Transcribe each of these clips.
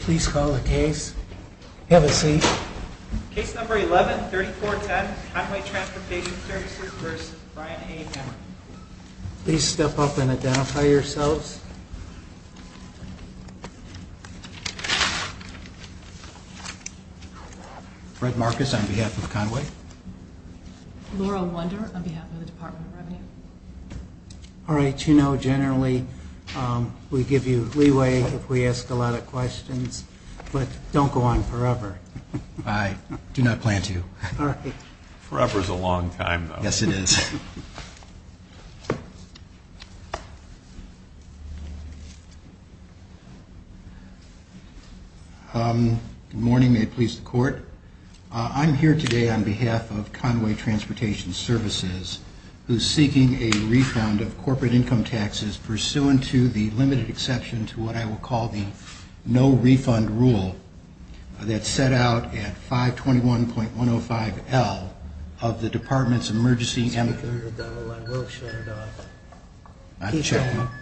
Please file a case. Have a seat. Case number 11-3410, Conway Transportation Services v. Brian A. Hamer Please step up and identify yourselves. Fred Marcus on behalf of Conway. Laurel Wunder on behalf of the Department of Revenue. R.H., you know, generally we give you leeway if we ask a lot of questions, but don't go on forever. I do not plan to. Forever's a long time, though. Yes, it is. Good morning. May it please the Court? I'm here today on behalf of Conway Transportation Services, who's seeking a refund of corporate income taxes pursuant to the limited exception to what I will call the no-refund rule that's set out at 521.105L of the Department's Emergency Amiculative...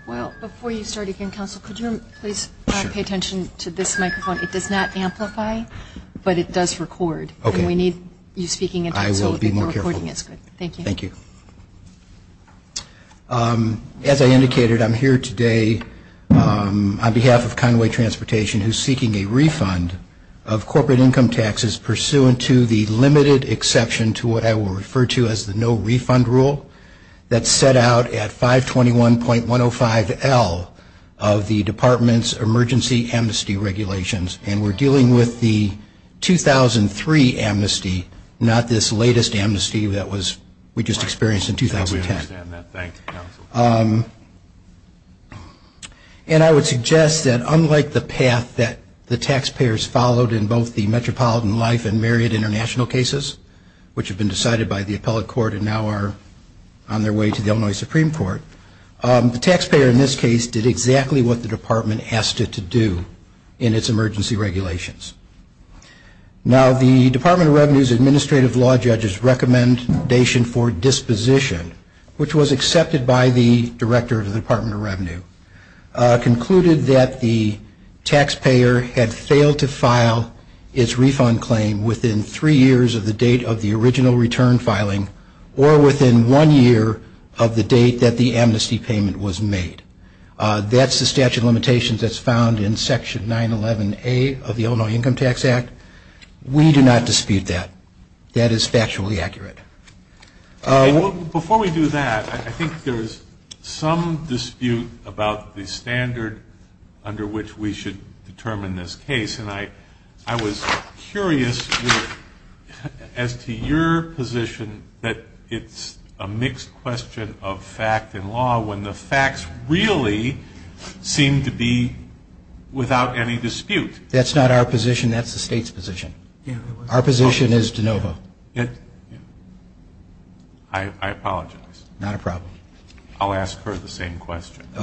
Well, before you start again, counsel, could you please pay attention to this microphone? It does not amplify, but it does record. Okay. And we need you speaking into it. I will be more careful. Thank you. Thank you. As I indicated, I'm here today on behalf of Conway Transportation, who's seeking a refund of corporate income taxes pursuant to the limited exception to what I will refer to as the no-refund rule that's set out at 521.105L of the Department's Emergency Amnesty Regulations. And we're dealing with the 2003 amnesty, not this latest amnesty that we just experienced in 2010. I understand that. Thank you, counsel. And I would suggest that, unlike the path that the taxpayers followed in both the Metropolitan Life and Variant International cases, which have been decided by the appellate court and now are on their way to the Illinois Supreme Court, the taxpayer in this case did exactly what the department asked it to do in its emergency regulations. Now, the Department of Revenue's administrative law judge's recommendation for disposition, which was accepted by the director of the Department of Revenue, concluded that the taxpayer had failed to file its refund claim within three years of the date of the original return filing or within one year of the date that the amnesty payment was made. That's the statute of limitations that's found in Section 911A of the Illinois Income Tax Act. We do not dispute that. That is factually accurate. Before we do that, I think there's some dispute about the standard under which we should determine this case. And I was curious as to your position that it's a mixed question of fact and law when the facts really seem to be without any dispute. That's not our position. That's the state's position. Our position is de novo. I apologize. Not a problem. I'll ask her the same question. I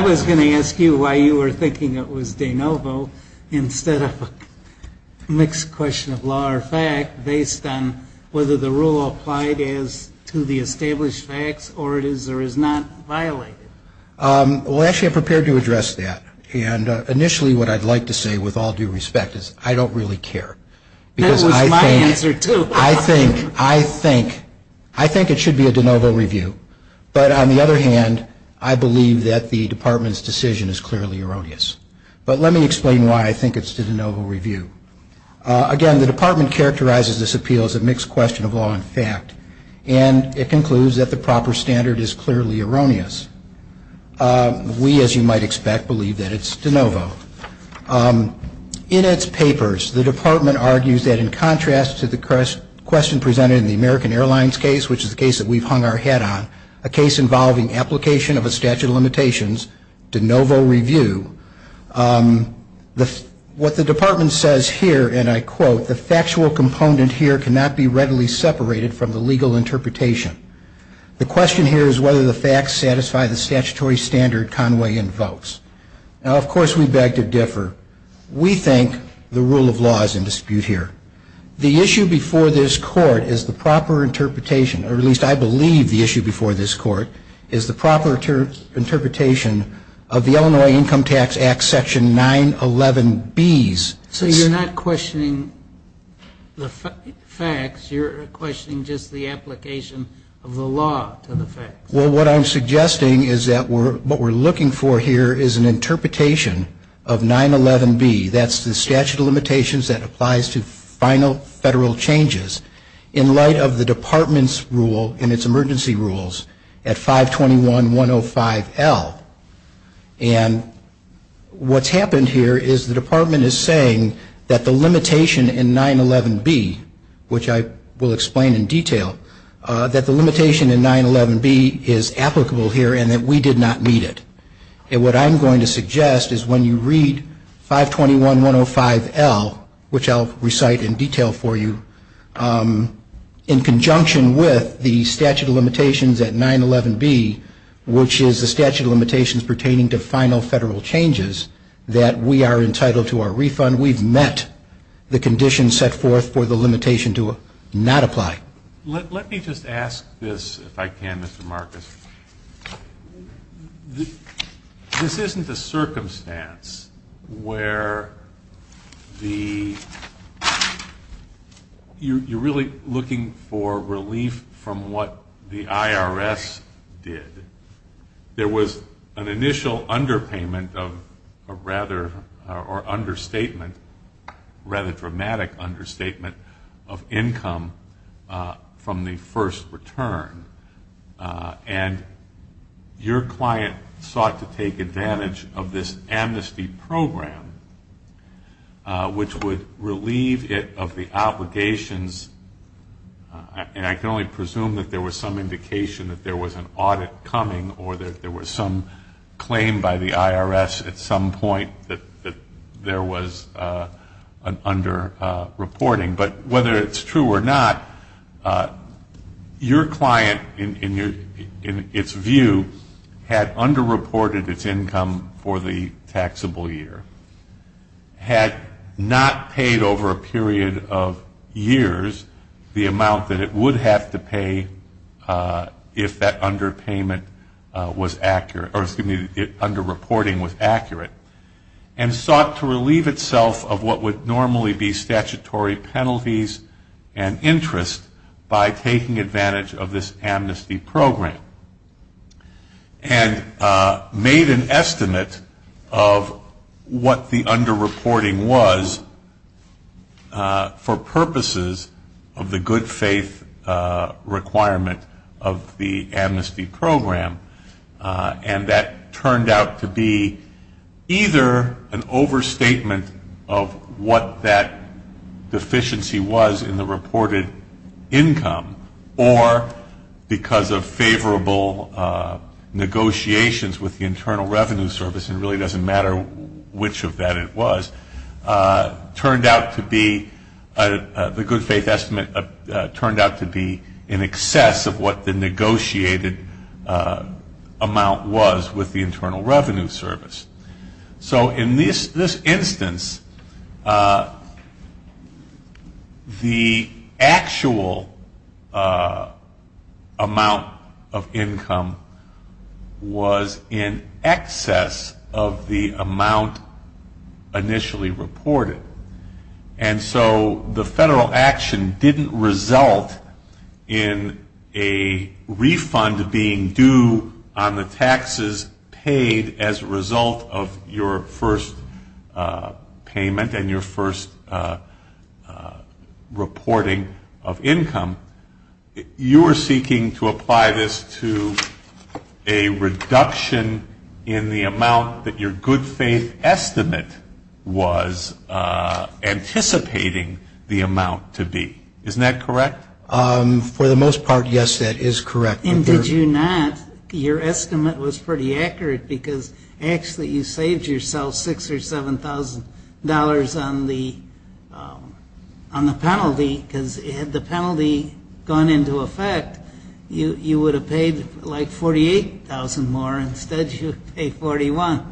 was going to ask you why you were thinking it was de novo instead of a mixed question of law or fact based on whether the rule applied as to the established facts or it is or is not violated. Well, actually I prepared to address that. And initially what I'd like to say with all due respect is I don't really care. Because I think it should be a de novo review. But on the other hand, I believe that the Department's decision is clearly erroneous. But let me explain why I think it's a de novo review. Again, the Department characterizes this appeal as a mixed question of law and fact. And it concludes that the proper standard is clearly erroneous. We, as you might expect, believe that it's de novo. In its papers, the Department argues that in contrast to the question presented in the American Airlines case, which is the case that we've hung our head on, a case involving application of a statute of limitations, de novo review, what the Department says here, and I quote, the factual component here cannot be readily separated from the legal interpretation. The question here is whether the facts satisfy the statutory standard Conway invokes. Now, of course, we beg to differ. We think the rule of law is in dispute here. The issue before this court is the proper interpretation, or at least I believe the issue before this court, is the proper interpretation of the Illinois Income Tax Act Section 911Bs. So you're not questioning the facts. You're questioning just the application of the law to the facts. Well, what I'm suggesting is that what we're looking for here is an interpretation of 911B, that's the statute of limitations that applies to final federal changes, in light of the Department's rule and its emergency rules at 521.105.L. And what's happened here is the Department is saying that the limitation in 911B, which I will explain in detail, that the limitation in 911B is applicable here and that we did not meet it. And what I'm going to suggest is when you read 521.105.L, which I'll recite in detail for you, in conjunction with the statute of limitations at 911B, which is the statute of limitations pertaining to final federal changes, that we are entitled to our refund. We've met the conditions set forth for the limitation to not apply. Let me just ask this, if I can, Mr. Marcus. This isn't a circumstance where you're really looking for relief from what the IRS did. There was an initial underpayment or understatement, rather dramatic understatement, of income from the first return. And your client sought to take advantage of this amnesty program, which would relieve it of the obligations. And I can only presume that there was some indication that there was an audit coming or that there was some claim by the IRS at some point that there was an underreporting. But whether it's true or not, your client, in its view, had underreported its income for the taxable year, had not paid over a period of years the amount that it would have to pay if that underpayment was accurate, or excuse me, if underreporting was accurate, and sought to relieve itself of what would normally be statutory penalties and interest by taking advantage of this amnesty program. And made an estimate of what the underreporting was for purposes of the good faith requirement of the amnesty program. And that turned out to be either an overstatement of what that deficiency was in the reported income, or because of favorable negotiations with the Internal Revenue Service, and it really doesn't matter which of that it was, turned out to be, the good faith estimate turned out to be in excess of what the negotiated amount was with the Internal Revenue Service. So in this instance, the actual amount of income was in excess of the amount initially reported. And so the federal action didn't result in a refund being due on the taxes paid as a result of your first payment and your first reporting of income. You are seeking to apply this to a reduction in the amount that your good faith estimate was anticipating the amount to be. Isn't that correct? For the most part, yes, that is correct. And did you not, your estimate was pretty accurate, because actually you saved yourself $6,000 or $7,000 on the penalty, because had the penalty gone into effect, you would have paid like $48,000 more. Instead, you'd pay $41,000.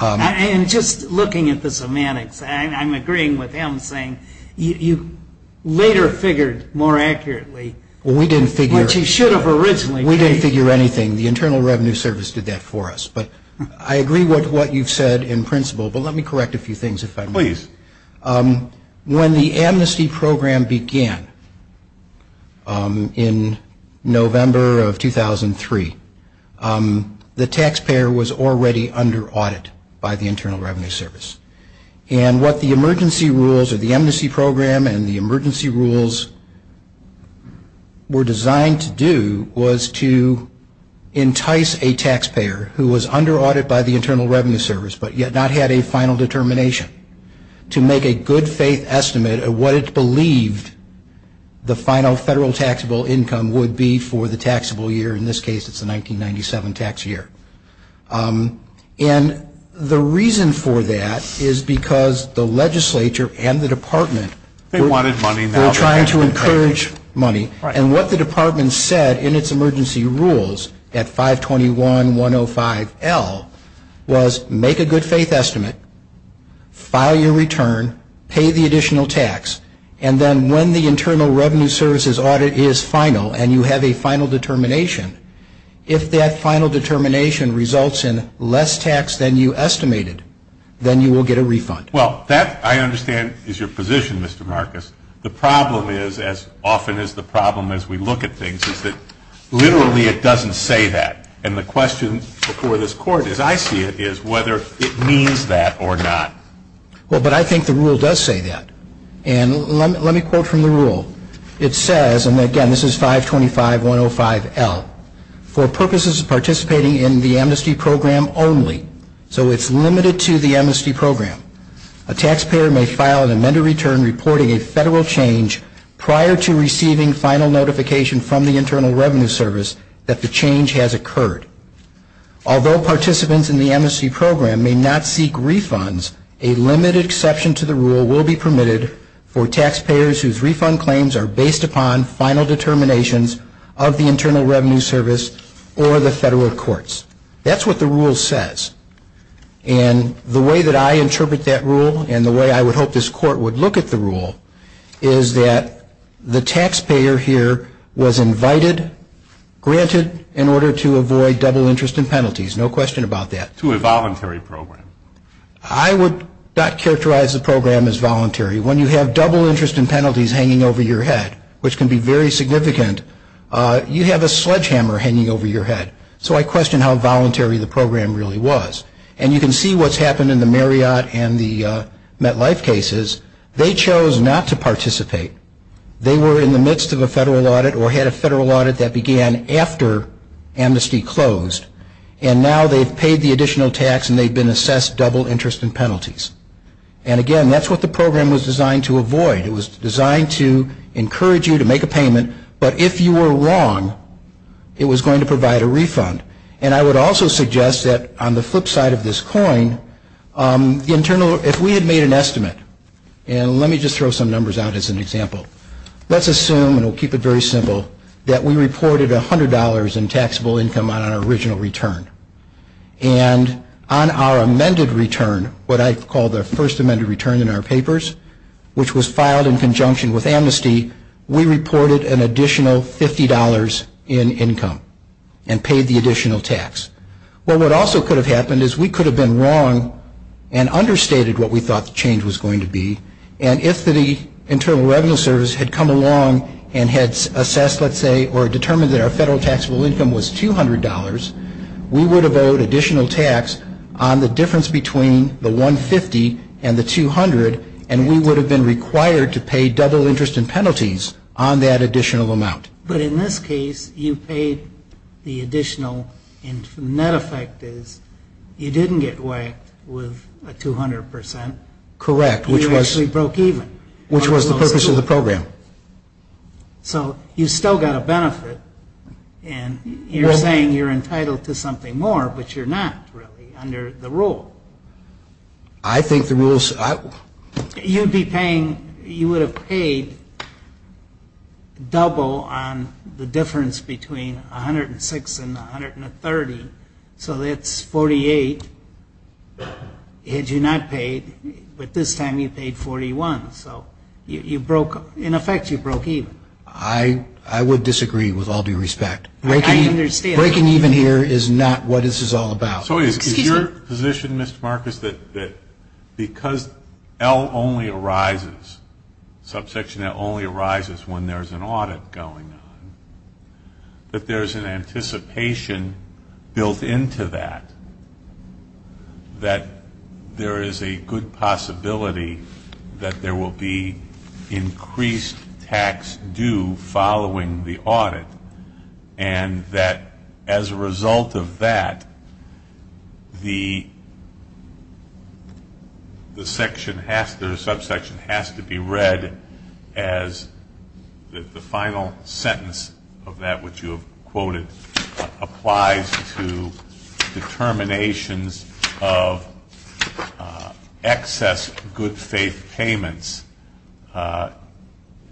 And just looking at the semantics, I'm agreeing with him, saying you later figured more accurately. Well, we didn't figure anything. The Internal Revenue Service did that for us, but I agree with what you've said in principle. But let me correct a few things if I may. Please. When the amnesty program began in November of 2003, the taxpayer was already under audit by the Internal Revenue Service. And what the emergency rules of the amnesty program and the emergency rules were designed to do was to entice a taxpayer who was under audit by the Internal Revenue Service, but yet not had a final determination, to make a good faith estimate of what it believed the final federal taxable income would be for the taxable year. In this case, it's the 1997 tax year. And the reason for that is because the legislature and the department were trying to encourage money. And what the department said in its emergency rules at 521-105-L was make a good faith estimate, file your return, pay the additional tax, and then when the Internal Revenue Service's audit is final and you have a final determination, if that final determination results in less tax than you estimated, then you will get a refund. Well, that, I understand, is your position, Mr. Marcus. The problem is, as often is the problem as we look at things, is that literally it doesn't say that. And the question before this Court, as I see it, is whether it means that or not. Well, but I think the rule does say that. And let me quote from the rule. It says, and again, this is 525-105-L, for purposes of participating in the amnesty program only, so it's limited to the amnesty program, a taxpayer may file an amended return reporting a federal change prior to receiving final notification from the Internal Revenue Service that the change has occurred. Although participants in the amnesty program may not seek refunds, a limited exception to the rule will be permitted for taxpayers whose refund claims are based upon final determinations of the Internal Revenue Service or the federal courts. That's what the rule says. And the way that I interpret that rule, and the way I would hope this Court would look at the rule, is that the taxpayer here was invited, granted, in order to avoid double interest and penalties. No question about that. To a voluntary program. I would not characterize the program as voluntary. When you have double interest and penalties hanging over your head, which can be very significant, you have a sledgehammer hanging over your head. So I question how voluntary the program really was. And you can see what's happened in the Marriott and the MetLife cases. They chose not to participate. They were in the midst of a federal audit or had a federal audit that began after amnesty closed, and now they've paid the additional tax and they've been assessed double interest and penalties. And again, that's what the program was designed to avoid. It was designed to encourage you to make a payment, but if you were wrong, it was going to provide a refund. And I would also suggest that on the flip side of this coin, if we had made an estimate, and let me just throw some numbers out as an example. Let's assume, and we'll keep it very simple, that we reported $100 in taxable income on an original return. And on our amended return, what I call the first amended return in our papers, which was filed in conjunction with amnesty, we reported an additional $50 in income and paid the additional tax. Well, what also could have happened is we could have been wrong and understated what we thought the change was going to be. And if the Internal Revenue Service had come along and had assessed, let's say, or determined that our federal taxable income was $200, we would have owed additional tax on the difference between the $150 and the $200, and we would have been required to pay double interest and penalties on that additional amount. But in this case, you paid the additional, and the net effect is you didn't get whacked with a 200%. Correct. You actually broke even. Which was the purpose of the program. So you still got a benefit, and you're saying you're entitled to something more, but you're not, really, under the rule. I think the rule's... You'd be paying, you would have paid double on the difference between $106 and $130, so that's $48 that you not paid, but this time you paid $41. In effect, you broke even. I would disagree with all due respect. I understand. Breaking even here is not what this is all about. So is your position, Mr. Marcus, that because L only arises, subsection L only arises when there's an audit going on, but there's an anticipation built into that, that there is a good possibility that there will be increased tax due following the audit, and that as a result of that, the section has to, the subsection has to be read as the final sentence of that, which you quoted, applies to determinations of excess good faith payments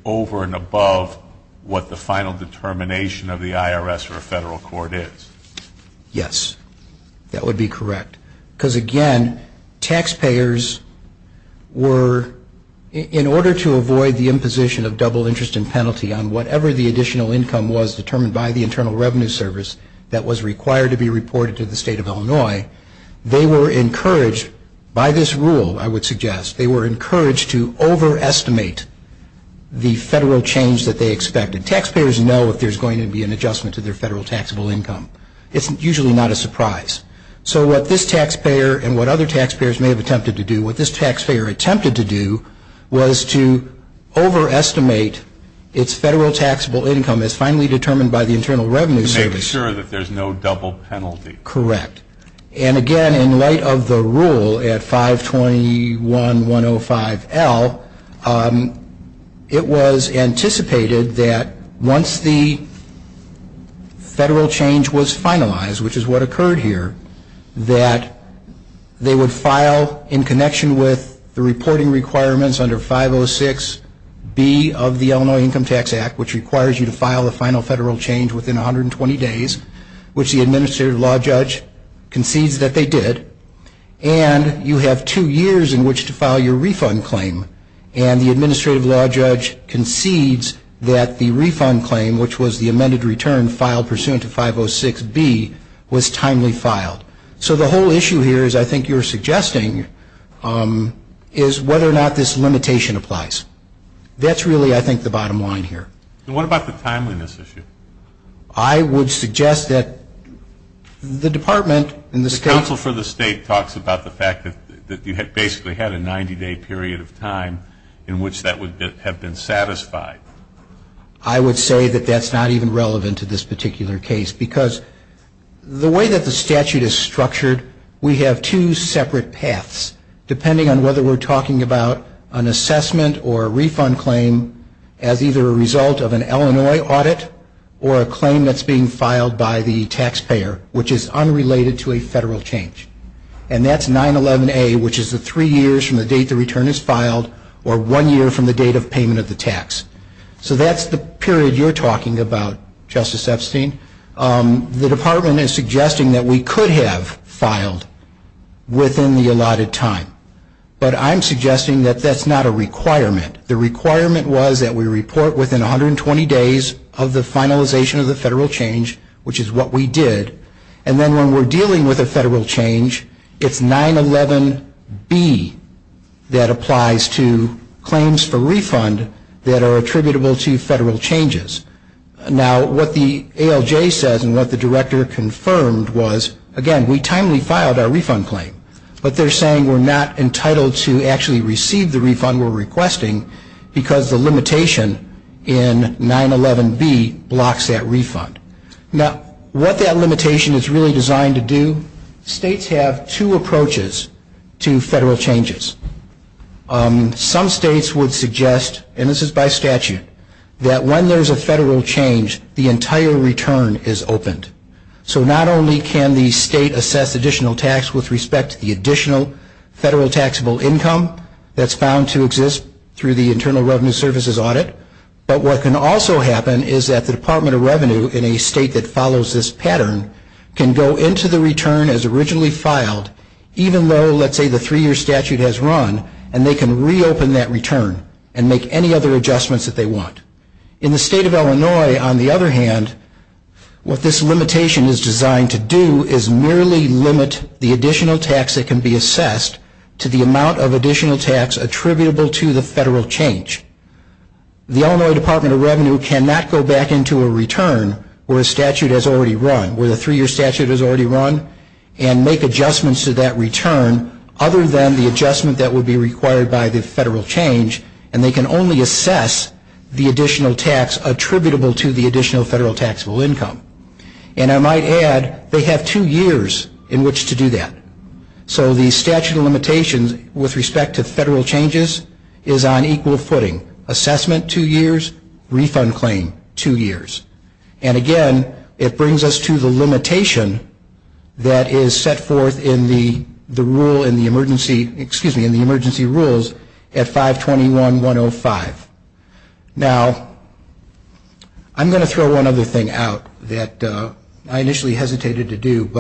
over and above what the final determination of the IRS or federal court is. Yes. That would be correct. Because, again, taxpayers were, in order to avoid the imposition of double interest and penalty on whatever the additional income was determined by the Internal Revenue Service that was required to be reported to the state of Illinois, they were encouraged, by this rule, I would suggest, they were encouraged to overestimate the federal change that they expected. Taxpayers know that there's going to be an adjustment to their federal taxable income. It's usually not a surprise. So what this taxpayer and what other taxpayers may have attempted to do, what this taxpayer attempted to do was to overestimate its federal taxable income as finally determined by the Internal Revenue Service. To make sure that there's no double penalty. Correct. And, again, in light of the rule at 521.105.L, it was anticipated that once the federal change was finalized, which is what occurred here, that they would file in connection with the reporting requirements under 506.B of the Illinois Income Tax Act, which requires you to file the final federal change within 120 days, which the Administrative Law Judge concedes that they did. And you have two years in which to file your refund claim. And the Administrative Law Judge concedes that the refund claim, which was the amended return filed pursuant to 506.B, was timely filed. So the whole issue here is, I think you're suggesting, is whether or not this limitation applies. That's really, I think, the bottom line here. And what about the timeliness issue? I would suggest that the department and the state... The counsel for the state talks about the fact that you basically had a 90-day period of time in which that would have been satisfied. I would say that that's not even relevant to this particular case, because the way that the statute is structured, we have two separate paths, depending on whether we're talking about an assessment or a refund claim as either a result of an Illinois audit or a claim that's being filed by the taxpayer, which is unrelated to a federal change. And that's 9-11-A, which is the three years from the date the return is filed or one year from the date of payment of the tax. So that's the period you're talking about, Justice Epstein. The department is suggesting that we could have filed within the allotted time, but I'm suggesting that that's not a requirement. The requirement was that we report within 120 days of the finalization of the federal change, which is what we did, and then when we're dealing with a federal change, it's 9-11-B that applies to claims for refund that are attributable to federal changes. Now, what the ALJ says and what the director confirmed was, again, we timely filed our refund claim. But they're saying we're not entitled to actually receive the refund we're requesting because the limitation in 9-11-B blocks that refund. Now, what that limitation is really designed to do, states have two approaches to federal changes. Some states would suggest, and this is by statute, that when there's a federal change, the entire return is opened. So not only can the state assess additional tax with respect to the additional federal taxable income that's found to exist through the Internal Revenue Service's audit, but what can also happen is that the Department of Revenue in a state that follows this pattern can go into the return as originally filed, even though, let's say, the three-year statute has run, and they can reopen that return and make any other adjustments that they want. In the state of Illinois, on the other hand, what this limitation is designed to do is merely limit the additional tax that can be assessed to the amount of additional tax attributable to the federal change. The Illinois Department of Revenue cannot go back into a return where a statute has already run, where the three-year statute has already run, and make adjustments to that return other than the adjustment that would be required by the federal change, and they can only assess the additional tax attributable to the additional federal taxable income. And I might add, they have two years in which to do that. So the statute of limitations with respect to federal changes is on equal footing. Assessment, two years. Refund claim, two years. And again, it brings us to the limitation that is set forth in the emergency rules at 521-105. Now, I'm going to throw one other thing out that I initially hesitated to do,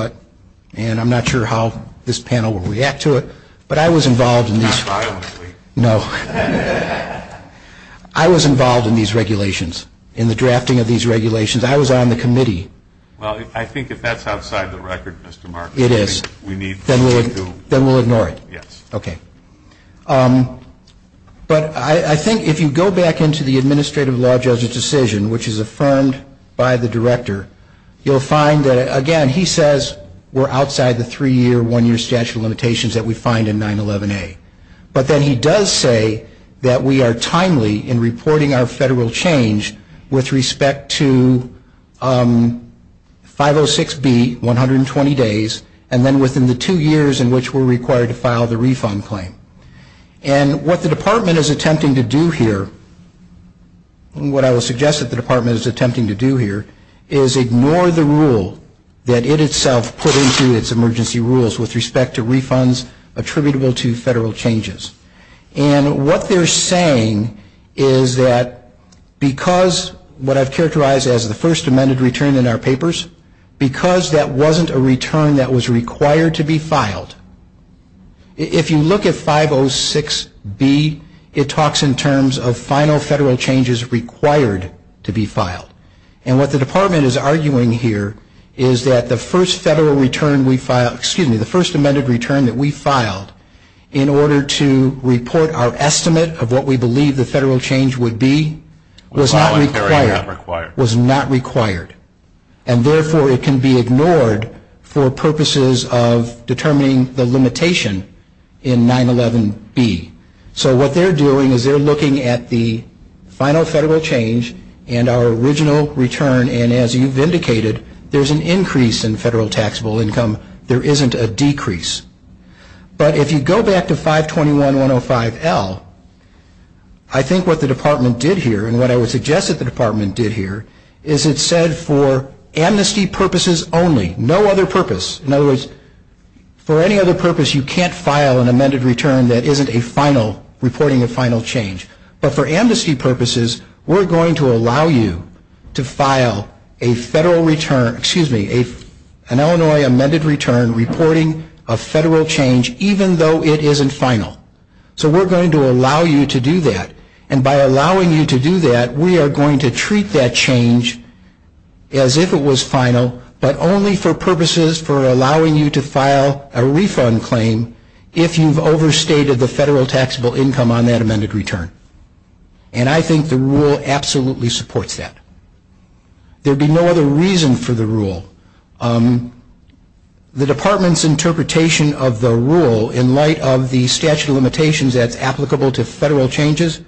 and I'm not sure how this panel will react to it. But I was involved in these regulations, in the drafting of these regulations. I was on the committee. Well, I think if that's outside the record, Mr. Marks, we need to do it. Then we'll ignore it. Yes. Okay. But I think if you go back into the administrative law judge's decision, which is affirmed by the director, you'll find that, again, he says we're outside the three-year, one-year statute of limitations that we find in 911A. But then he does say that we are timely in reporting our federal change with respect to 506B, 120 days, and then within the two years in which we're required to file the refund claim. And what the department is attempting to do here, and what I would suggest that the department is attempting to do here, is ignore the rule that it itself put into its emergency rules with respect to refunds with respect to federal changes. And what they're saying is that because what I've characterized as the first amended return in our papers, because that wasn't a return that was required to be filed, if you look at 506B, it talks in terms of final federal changes required to be filed. And what the department is arguing here is that the first federal return we filed, excuse me, the first amended return that we filed, in order to report our estimate of what we believe the federal change would be, was not required. And therefore, it can be ignored for purposes of determining the limitation in 911B. So what they're doing is they're looking at the final federal change and our original return, and as you've indicated, there's an increase in federal taxable income. There isn't a decrease. But if you go back to 521.105L, I think what the department did here, and what I would suggest that the department did here, is it said for amnesty purposes only. No other purpose. In other words, for any other purpose, you can't file an amended return that isn't a final, reporting a final change. But for amnesty purposes, we're going to allow you to file a federal return, excuse me, an Illinois amended return reporting a federal change, even though it isn't final. So we're going to allow you to do that. And by allowing you to do that, we are going to treat that change as if it was final, but only for purposes for allowing you to file a refund claim if you've overstated the federal taxable income on that amended return. And I think the rule absolutely supports that. There would be no other reason for the rule. The department's interpretation of the rule in light of the statute of limitations that's applicable to federal changes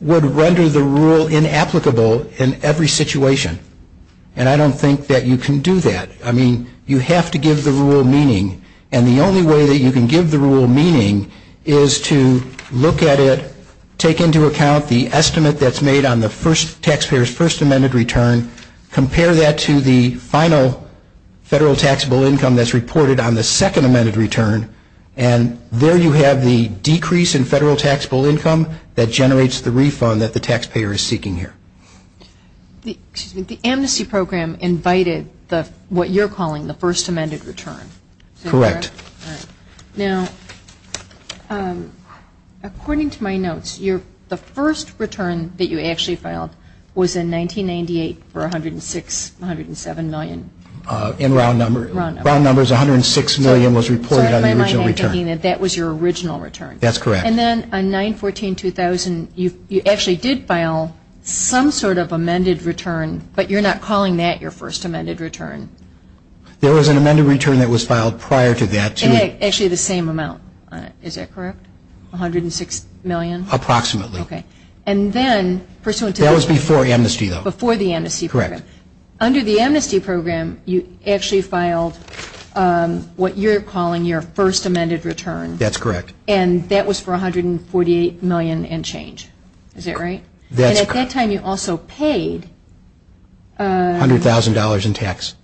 would render the rule inapplicable in every situation, and I don't think that you can do that. I mean, you have to give the rule meaning. And the only way that you can give the rule meaning is to look at it, take into account the estimate that's made on the taxpayer's first amended return, compare that to the final federal taxable income that's reported on the second amended return, and there you have the decrease in federal taxable income that generates the refund that the taxpayer is seeking here. The amnesty program invited what you're calling the first amended return. Correct. Now, according to my notes, the first return that you actually filed was in 1998 for $106 million, $107 million. In round numbers. Round numbers. Round numbers, $106 million was reported on the original return. That was your original return. That's correct. And then on 9-14-2000, you actually did file some sort of amended return, but you're not calling that your first amended return. There was an amended return that was filed prior to that, too. Actually, the same amount. Is that correct? $106 million? Approximately. Okay. That was before amnesty, though. Before the amnesty program. Correct. Under the amnesty program, you actually filed what you're calling your first amended return. That's correct. And that was for $148 million and change. Is that right? That's correct. And at that time, you also paid. $100,000 in tax.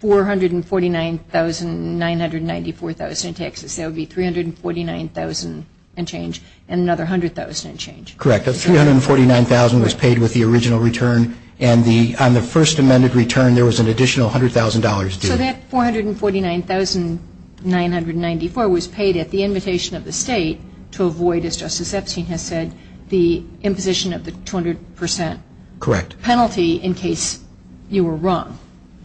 $449,994 in taxes. That would be $349,000 and change and another $100,000 in change. Correct. $349,000 was paid with the original return, and on the first amended return, there was an additional $100,000 due. So that $449,994 was paid at the invitation of the state to avoid, as Justice Epstein has said, the imposition of the 200% penalty in case you were wrong.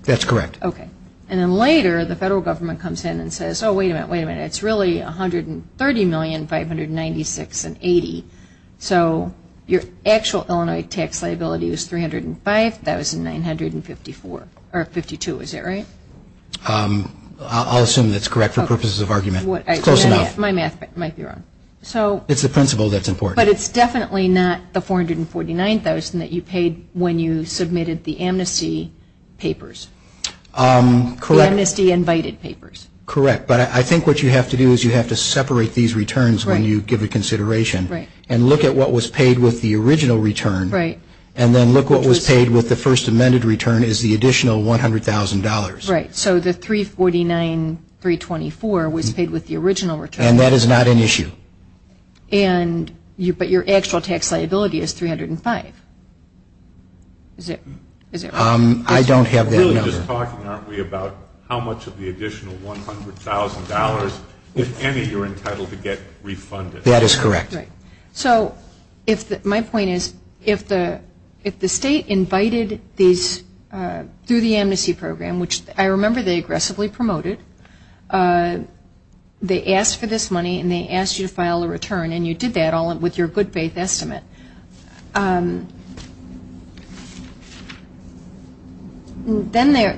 That's correct. Okay. And then later, the federal government comes in and says, oh, wait a minute, wait a minute, it's really $130,596,080. So your actual Illinois tax liability is $305,952, is that right? I'll assume that's correct for purposes of argument. Close enough. My math might be wrong. It's the principle that's important. But it's definitely not the $449,000 that you paid when you submitted the amnesty papers. Correct. The amnesty invited papers. Correct, but I think what you have to do is you have to separate these returns when you give a consideration and look at what was paid with the original return and then look what was paid with the first amended return is the additional $100,000. Right. So the $349,324 was paid with the original return. And that is not an issue. But your actual tax liability is $305,000. I don't have that number. You're really just talking, aren't we, about how much of the additional $100,000, if any, you're entitled to get refunded. That is correct. So my point is if the state invited these through the amnesty program, which I remember they aggressively promoted, they asked for this money and they asked you to file a return and you did that all with your good faith estimate. Then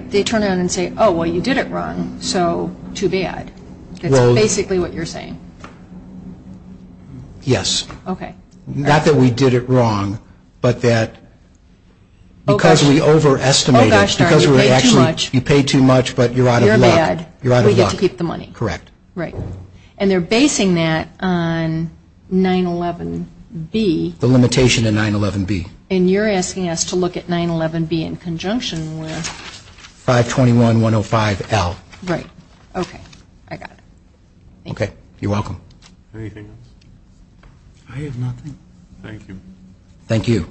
they turn around and say, oh, well, you did it wrong, so too bad. That's basically what you're saying. Yes. Okay. Not that we did it wrong, but that because we overestimated, because you paid too much, but you're out of luck. You're out of luck. We get to keep the money. Correct. Right. And they're basing that on 9-11-B. The limitation of 9-11-B. And you're asking us to look at 9-11-B in conjunction with... 521-105-L. Right. Okay. I got it. Okay. You're welcome. Anything else? I have nothing. Thank you. Thank you.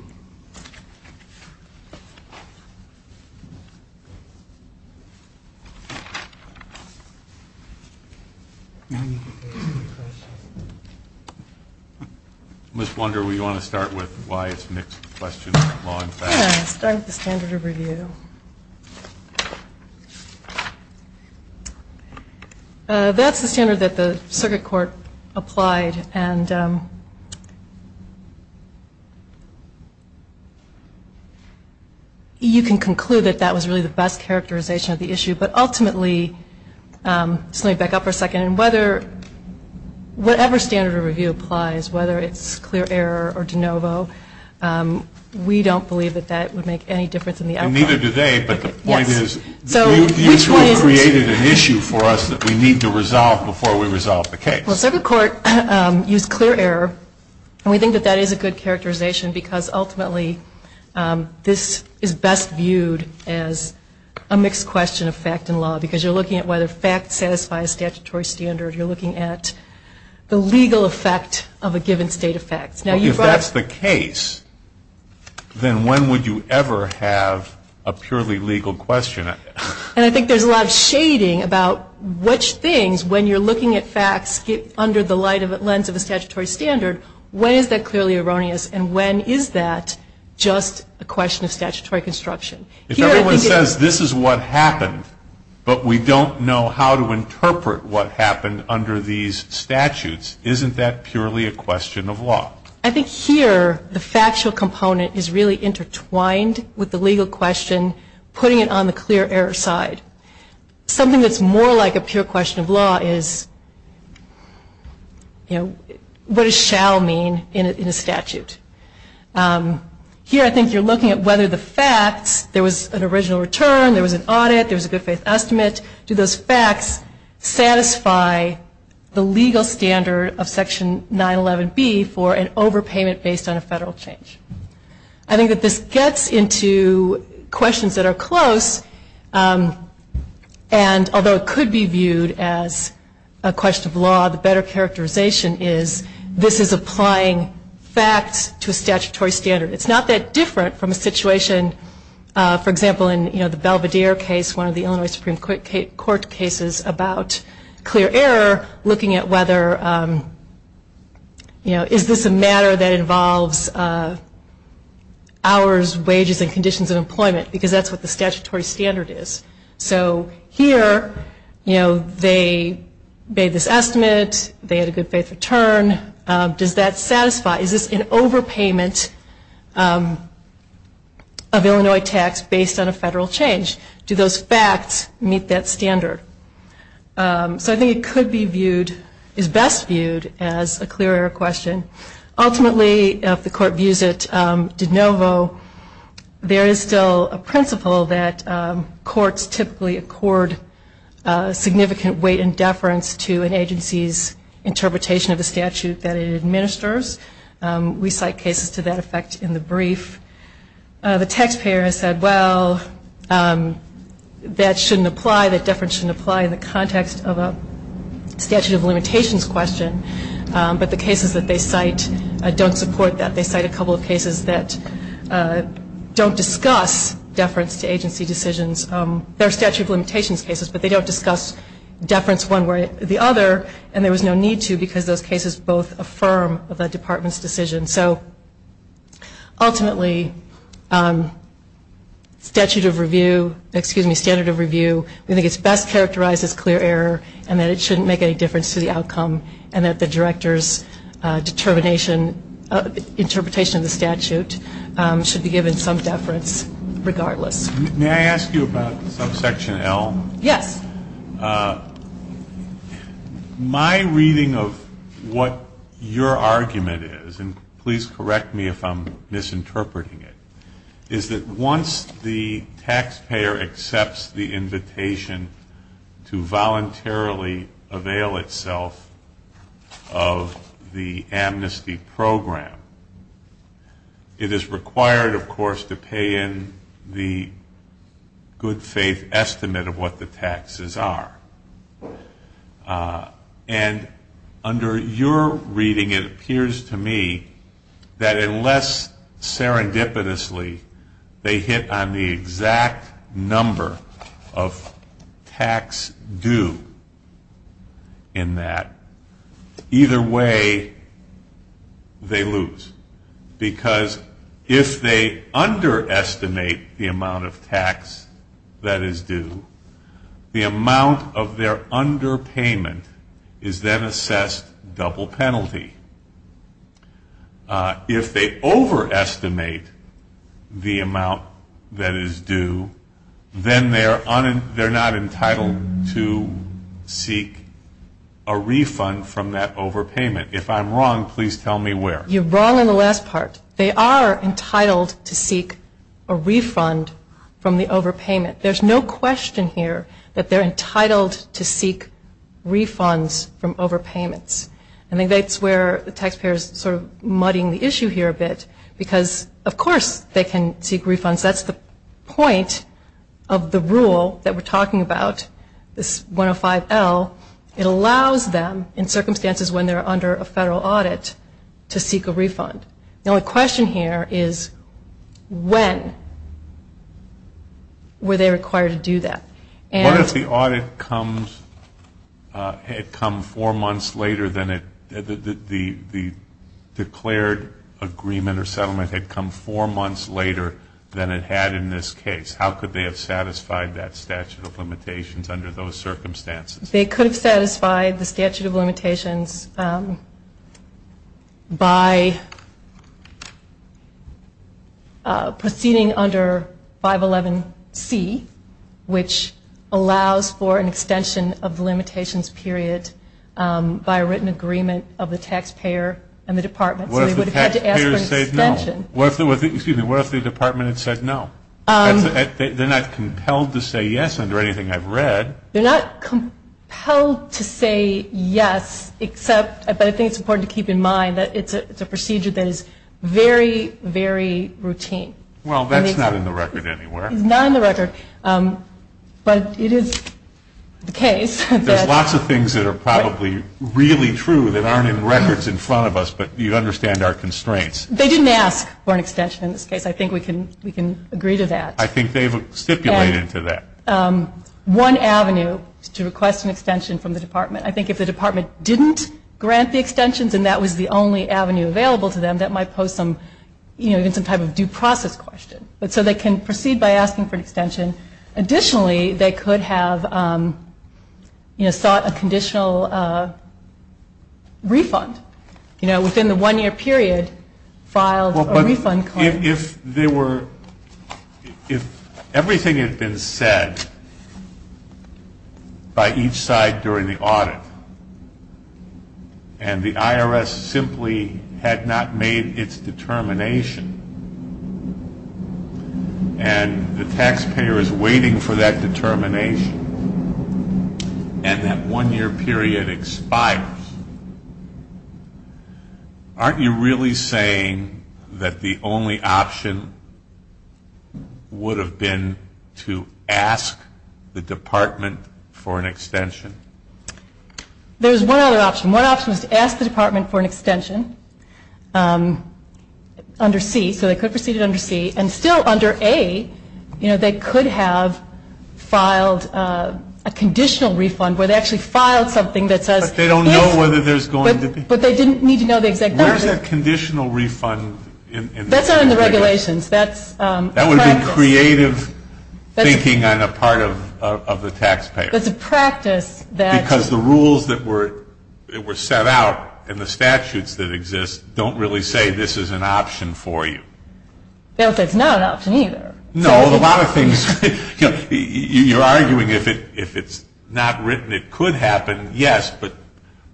Ms. Wunder, do you want to start with why it's mixed questions? Yeah, I'll start with the standard of review. That's the standard that the circuit court applied, and you can conclude that that was really the best characterization of the issue. But ultimately, let me back up for a second, and whatever standard of review applies, whether it's clear error or de novo, we don't believe that that would make any difference in the outcome. And neither do they, but the point is, the issue created an issue for us that we need to resolve before we resolve the case. Well, the circuit court used clear error, and we think that that is a good characterization because, ultimately, this is best viewed as a mixed question of fact and law, because you're looking at whether facts satisfy a statutory standard. You're looking at the legal effect of a given state of fact. If that's the case, then when would you ever have a purely legal question? And I think there's a lot of shading about which things, when you're looking at facts under the lens of a statutory standard, when is that clearly erroneous and when is that just a question of statutory construction? If everyone says this is what happened, but we don't know how to interpret what happened under these statutes, isn't that purely a question of law? I think here the factual component is really intertwined with the legal question, putting it on the clear error side. Something that's more like a pure question of law is, you know, what does shall mean in a statute? Here I think you're looking at whether the fact there was an original return, there was an audit, there was a good faith estimate. Do those facts satisfy the legal standard of Section 911B for an overpayment based on a federal change? I think that this gets into questions that are close, and although it could be viewed as a question of law, the better characterization is this is applying facts to a statutory standard. It's not that different from a situation, for example, in the Belvedere case, one of the Illinois Supreme Court cases about clear error looking at whether, you know, is this a matter that involves hours, wages, and conditions of employment because that's what the statutory standard is. So here, you know, they made this estimate. They had a good faith return. Does that satisfy? Is this an overpayment of Illinois tax based on a federal change? Do those facts meet that standard? So I think it could be viewed, is best viewed as a clear error question. Ultimately, if the court views it de novo, there is still a principle that courts typically accord significant weight and deference to an agency's interpretation of the statute that it administers. We cite cases to that effect in the brief. The taxpayer has said, well, that shouldn't apply, that deference shouldn't apply in the context of a statute of limitations question, but the cases that they cite don't support that. They cite a couple of cases that don't discuss deference to agency decisions. They're statute of limitations cases, but they don't discuss deference one way or the other, and there was no need to because those cases both affirm the department's decision. So ultimately, statute of review, excuse me, standard of review, I think it's best characterized as clear error and that it shouldn't make any difference to the outcome and that the director's interpretation of the statute should be given some deference regardless. May I ask you about section L? Yes. My reading of what your argument is, and please correct me if I'm misinterpreting it, is that once the taxpayer accepts the invitation to voluntarily avail itself of the amnesty program, it is required, of course, to pay in the good faith estimate of what the taxes are. And under your reading, it appears to me that unless serendipitously they hit on the exact number of tax due in that, either way they lose because if they underestimate the amount of tax that is due, the amount of their underpayment is then assessed double penalty. If they overestimate the amount that is due, then they're not entitled to seek a refund from that overpayment. If I'm wrong, please tell me where. You're wrong on the last part. They are entitled to seek a refund from the overpayment. There's no question here that they're entitled to seek refunds from overpayments. I think that's where the taxpayer is sort of muddying the issue here a bit because, of course, they can seek refunds. That's the point of the rule that we're talking about, this 105L. It allows them, in circumstances when they're under a federal audit, to seek a refund. Now, the question here is when were they required to do that? What if the audit had come four months later than it, the declared agreement or settlement had come four months later than it had in this case? How could they have satisfied that statute of limitations under those circumstances? They could have satisfied the statute of limitations by proceeding under 511C, which allows for an extension of the limitations period by a written agreement of the taxpayer and the department. What if the taxpayer said no? What if the department had said no? They're not compelled to say yes under anything I've read. They're not compelled to say yes except, but I think it's important to keep in mind, that it's a procedure that is very, very routine. Well, that's not in the record anywhere. Not in the record, but it is the case. There are lots of things that are probably really true that aren't in records in front of us, but you understand our constraints. They didn't ask for an extension in this case. I think we can agree to that. I think they've stipulated to that. One avenue to request an extension from the department. I think if the department didn't grant the extensions and that was the only avenue available to them, that might pose some type of due process question. So they can proceed by asking for an extension. Additionally, they could have sought a conditional refund within the one-year period. If everything had been said by each side during the audit, and the IRS simply had not made its determination, and the taxpayer is waiting for that determination, and that one-year period expires, aren't you really saying that the only option would have been to ask the department for an extension? There's one other option. One option is to ask the department for an extension under C. So they could proceed under C. And still under A, they could have filed a conditional refund, But they don't know whether there's going to be. But they didn't need to know the exact number. Where's that conditional refund in the regulations? That's not in the regulations. That would be creative thinking on the part of the taxpayer. There's a practice that. Because the rules that were set out in the statutes that exist don't really say this is an option for you. They don't say it's not an option either. No, a lot of things. You're arguing if it's not written it could happen, yes, but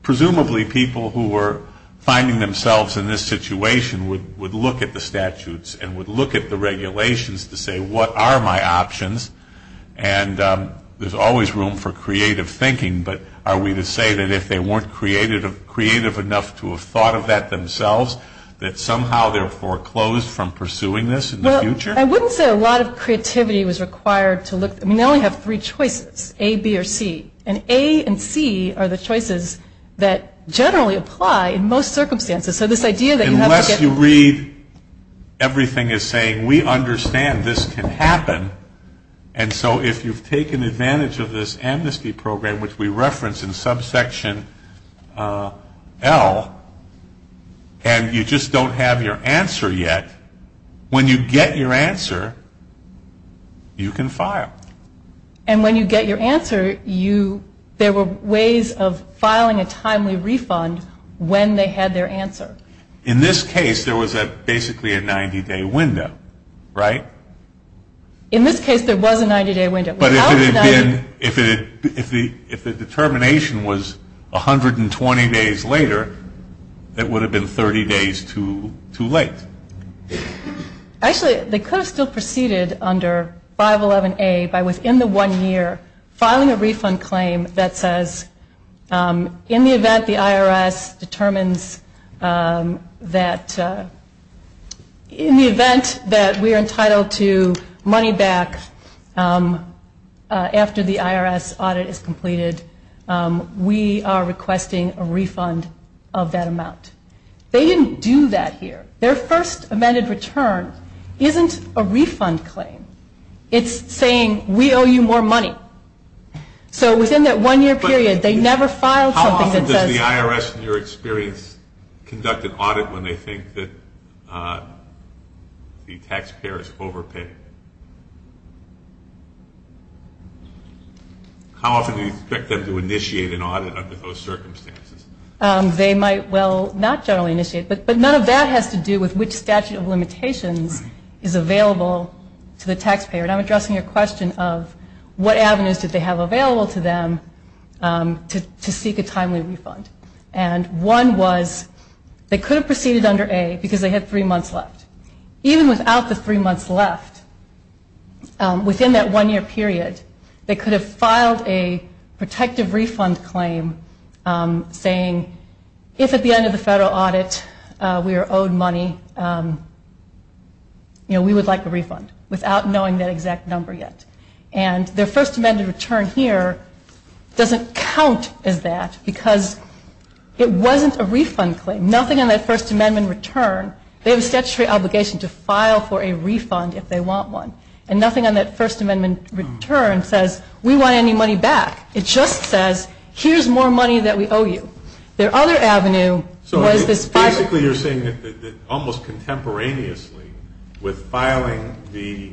presumably people who were finding themselves in this situation would look at the statutes and would look at the regulations to say what are my options. And there's always room for creative thinking, but are we to say that if they weren't creative enough to have thought of that themselves, that somehow they're foreclosed from pursuing this in the future? I wouldn't say a lot of creativity was required to look. You only have three choices, A, B, or C. And A and C are the choices that generally apply in most circumstances. So this idea that you have to get. Unless you read everything as saying we understand this can happen. And so if you've taken advantage of this amnesty program, which we reference in subsection L, and you just don't have your answer yet, when you get your answer, you can file. And when you get your answer, there were ways of filing a timely refund when they had their answer. In this case, there was basically a 90-day window, right? In this case, there was a 90-day window. But if the determination was 120 days later, it would have been 30 days too late. Actually, they could have still proceeded under 511A by within the one year, filing a refund claim that says, in the event the IRS determines that, in the event that we are entitled to money back after the IRS audit is completed, we are requesting a refund of that amount. They didn't do that here. Their first amended return isn't a refund claim. It's saying, we owe you more money. So within that one year period, they never filed something that says- How often does the IRS, in your experience, conduct an audit when they think that the taxpayer is overpaying? How often do you expect them to initiate an audit under those circumstances? They might, well, not generally initiate. But none of that has to do with which statute of limitations is available to the taxpayer. And I'm addressing a question of what avenues did they have available to them to seek a timely refund. And one was, they could have proceeded under A because they had three months left. Even without the three months left, within that one year period, they could have filed a protective refund claim saying, if at the end of the federal audit we are owed money, we would like a refund without knowing that exact number yet. And their first amended return here doesn't count as that because it wasn't a refund claim. Nothing in that first amendment return, they have a statutory obligation to file for a refund if they want one. And nothing on that first amendment return says, we want any money back. It just says, here's more money that we owe you. Their other avenue- So basically you're saying that almost contemporaneously with filing the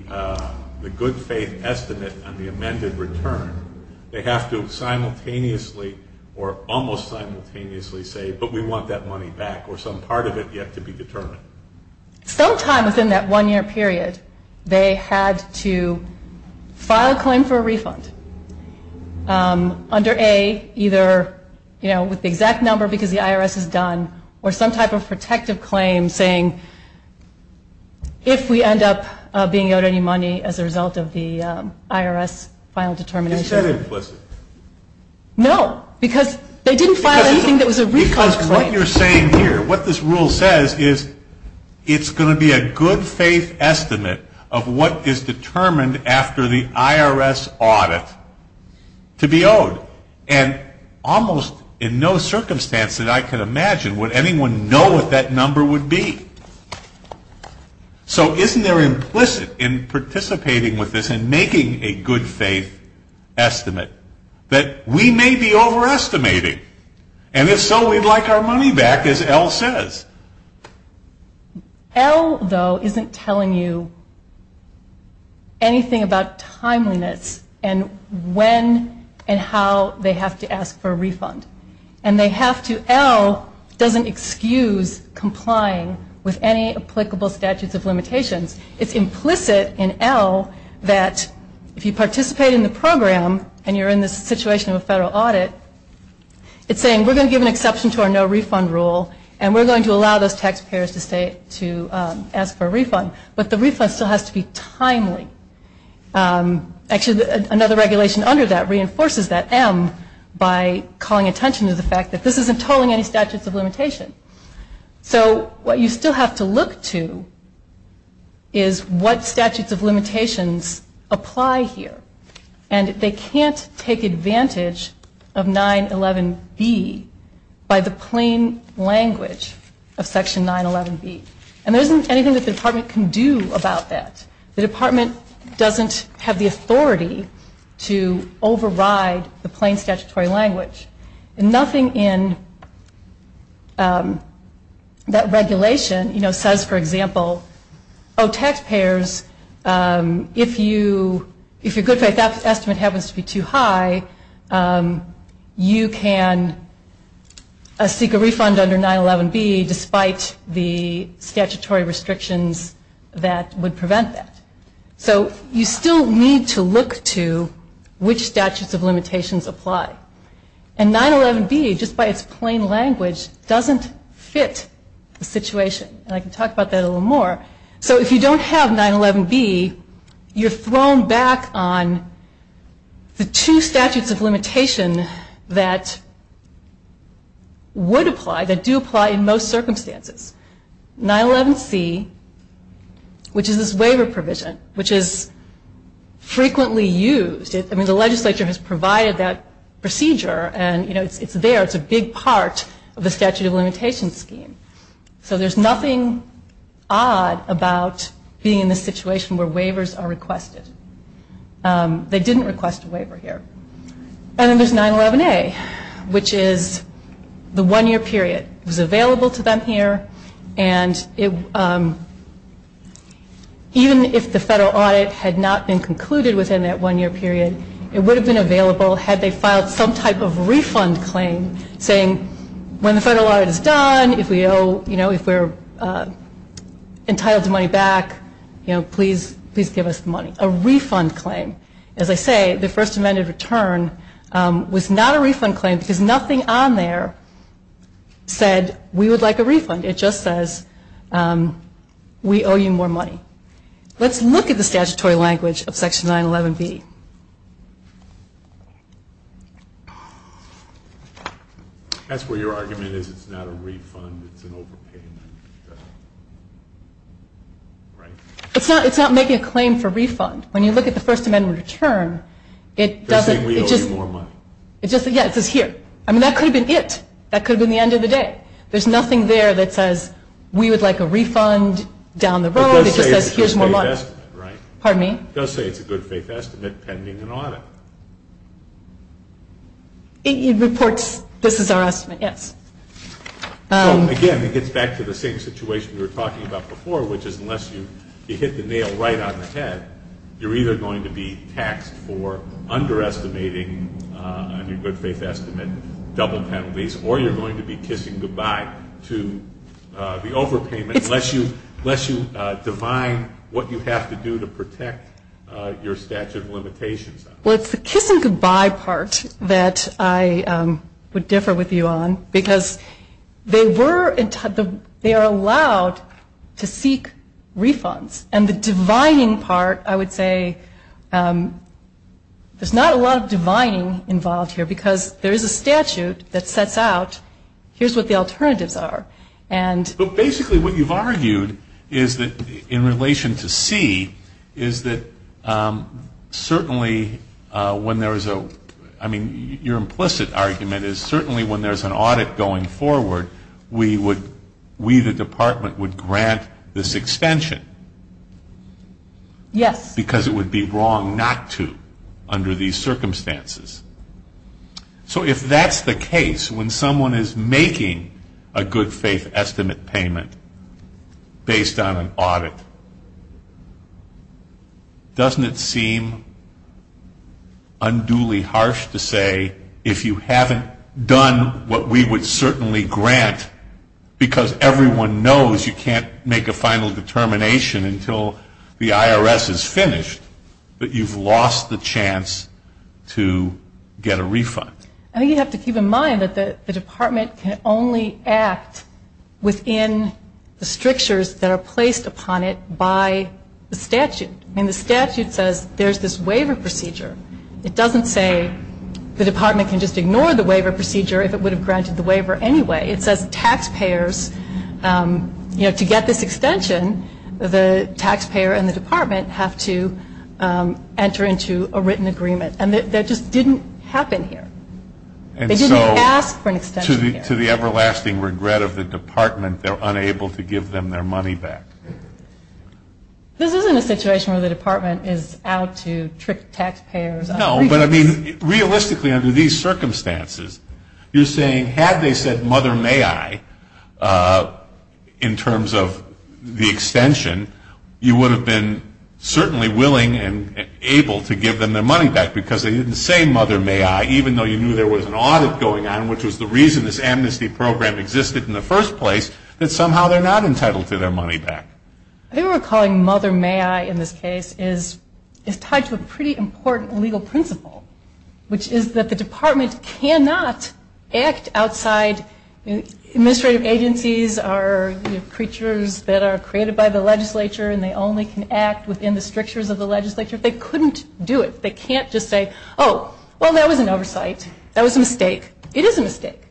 good faith estimate on the amended return, they have to simultaneously or almost simultaneously say, but we want that money back, or some part of it yet to be determined. Sometime within that one year period, they had to file a claim for a refund. Under A, either with the exact number because the IRS has done, or some type of protective claim saying, if we end up being owed any money as a result of the IRS final determination. That's very implicit. No, because they didn't file anything that was a refund claim. Because what you're saying here, what this rule says is, it's going to be a good faith estimate of what is determined after the IRS audit to be owed. And almost in no circumstance that I could imagine would anyone know what that number would be. So isn't there implicit in participating with this and making a good faith estimate that we may be overestimating? And if so, we'd like our money back, as L says. L, though, isn't telling you anything about timeliness and when and how they have to ask for a refund. And they have to, L doesn't excuse complying with any applicable statutes of limitations. It's implicit in L that if you participate in the program and you're in this situation of a federal audit, it's saying we're going to give an exception to our no refund rule, and we're going to allow those taxpayers to ask for a refund. But the refund still has to be timely. Actually, another regulation under that reinforces that, M, by calling attention to the fact that this isn't tolling any statute of limitations. So what you still have to look to is what statutes of limitations apply here. And they can't take advantage of 911B by the plain language of Section 911B. And there isn't anything that the Department can do about that. The Department doesn't have the authority to override the plain statutory language. And nothing in that regulation, you know, says, for example, oh, taxpayers, if your good faith estimate happens to be too high, you can seek a refund under 911B despite the statutory restrictions that would prevent that. So you still need to look to which statutes of limitations apply. And 911B, just by its plain language, doesn't fit the situation. And I can talk about that a little more. So if you don't have 911B, you're thrown back on the two statutes of limitations that would apply, that do apply in most circumstances. So there's 911C, which is this waiver provision, which is frequently used. I mean, the legislature has provided that procedure. And, you know, it's there. It's a big part of the statute of limitations scheme. So there's nothing odd about being in a situation where waivers are requested. They didn't request a waiver here. And then there's 911A, which is the one-year period. It was available to them here. And even if the federal audit had not been concluded within that one-year period, it would have been available had they filed some type of refund claim saying, when the federal audit is done, if we owe, you know, if we're entitled to money back, you know, please give us the money, a refund claim. As I say, the First Amendment return was not a refund claim because nothing on there said, we would like a refund. It just says, we owe you more money. Let's look at the statutory language of Section 911B. That's where your argument is. It's not a refund. It's an overpayment. It's not making a claim for refund. When you look at the First Amendment return, it doesn't, it just, it just, yeah, it says here. I mean, that could have been it. That could have been the end of the day. There's nothing there that says, we would like a refund down the road. It just says, we owe you more money. Pardon me? It does say it's a good-faith estimate pending an audit. It reports just as an estimate, yes. Again, it gets back to the same situation we were talking about before, which is unless you hit the nail right on the head, you're either going to be taxed for underestimating on your good-faith estimate double penalties, or you're going to be kissing goodbye to the overpayment unless you divine what you have to do to protect your statute of limitations. Well, it's the kissing goodbye part that I would differ with you on, because they were, they are allowed to seek refunds. And the divining part, I would say, there's not a lot of divining involved here, because there is a statute that sets out, here's what the alternatives are. But basically what you've argued is that in relation to C, is that certainly when there's a, I mean, your implicit argument is certainly when there's an audit going forward, we would, we the department would grant this extension. Yes. Because it would be wrong not to under these circumstances. So if that's the case, when someone is making a good-faith estimate payment based on an audit, doesn't it seem unduly harsh to say if you haven't done what we would certainly grant, because everyone knows you can't make a final determination until the IRS is finished, that you've lost the chance to get a refund? I think you have to keep in mind that the department can only act within the strictures that are placed upon it by the statute. I mean, the statute says there's this waiver procedure. It doesn't say the department can just ignore the waiver procedure if it would have granted the waiver anyway. It says taxpayers, you know, to get this extension, the taxpayer and the department have to enter into a written agreement. And that just didn't happen here. They didn't ask for an extension. And to the everlasting regret of the department, they're unable to give them their money back. This isn't a situation where the department is out to trick taxpayers. No, but I mean, realistically under these circumstances, you're saying had they said, mother, may I, in terms of the extension, you would have been certainly willing and able to give them their money back because they didn't say, mother, may I, even though you knew there was an audit going on, which is the reason this amnesty program existed in the first place, that somehow they're not entitled to their money back. I think what we're calling mother, may I in this case is tied to a pretty important legal principle, which is that the department cannot act outside. Administrative agencies are creatures that are created by the legislature and they only can act within the strictures of the legislature. They couldn't do it. They can't just say, oh, well, that was an oversight. That was a mistake. It is a mistake.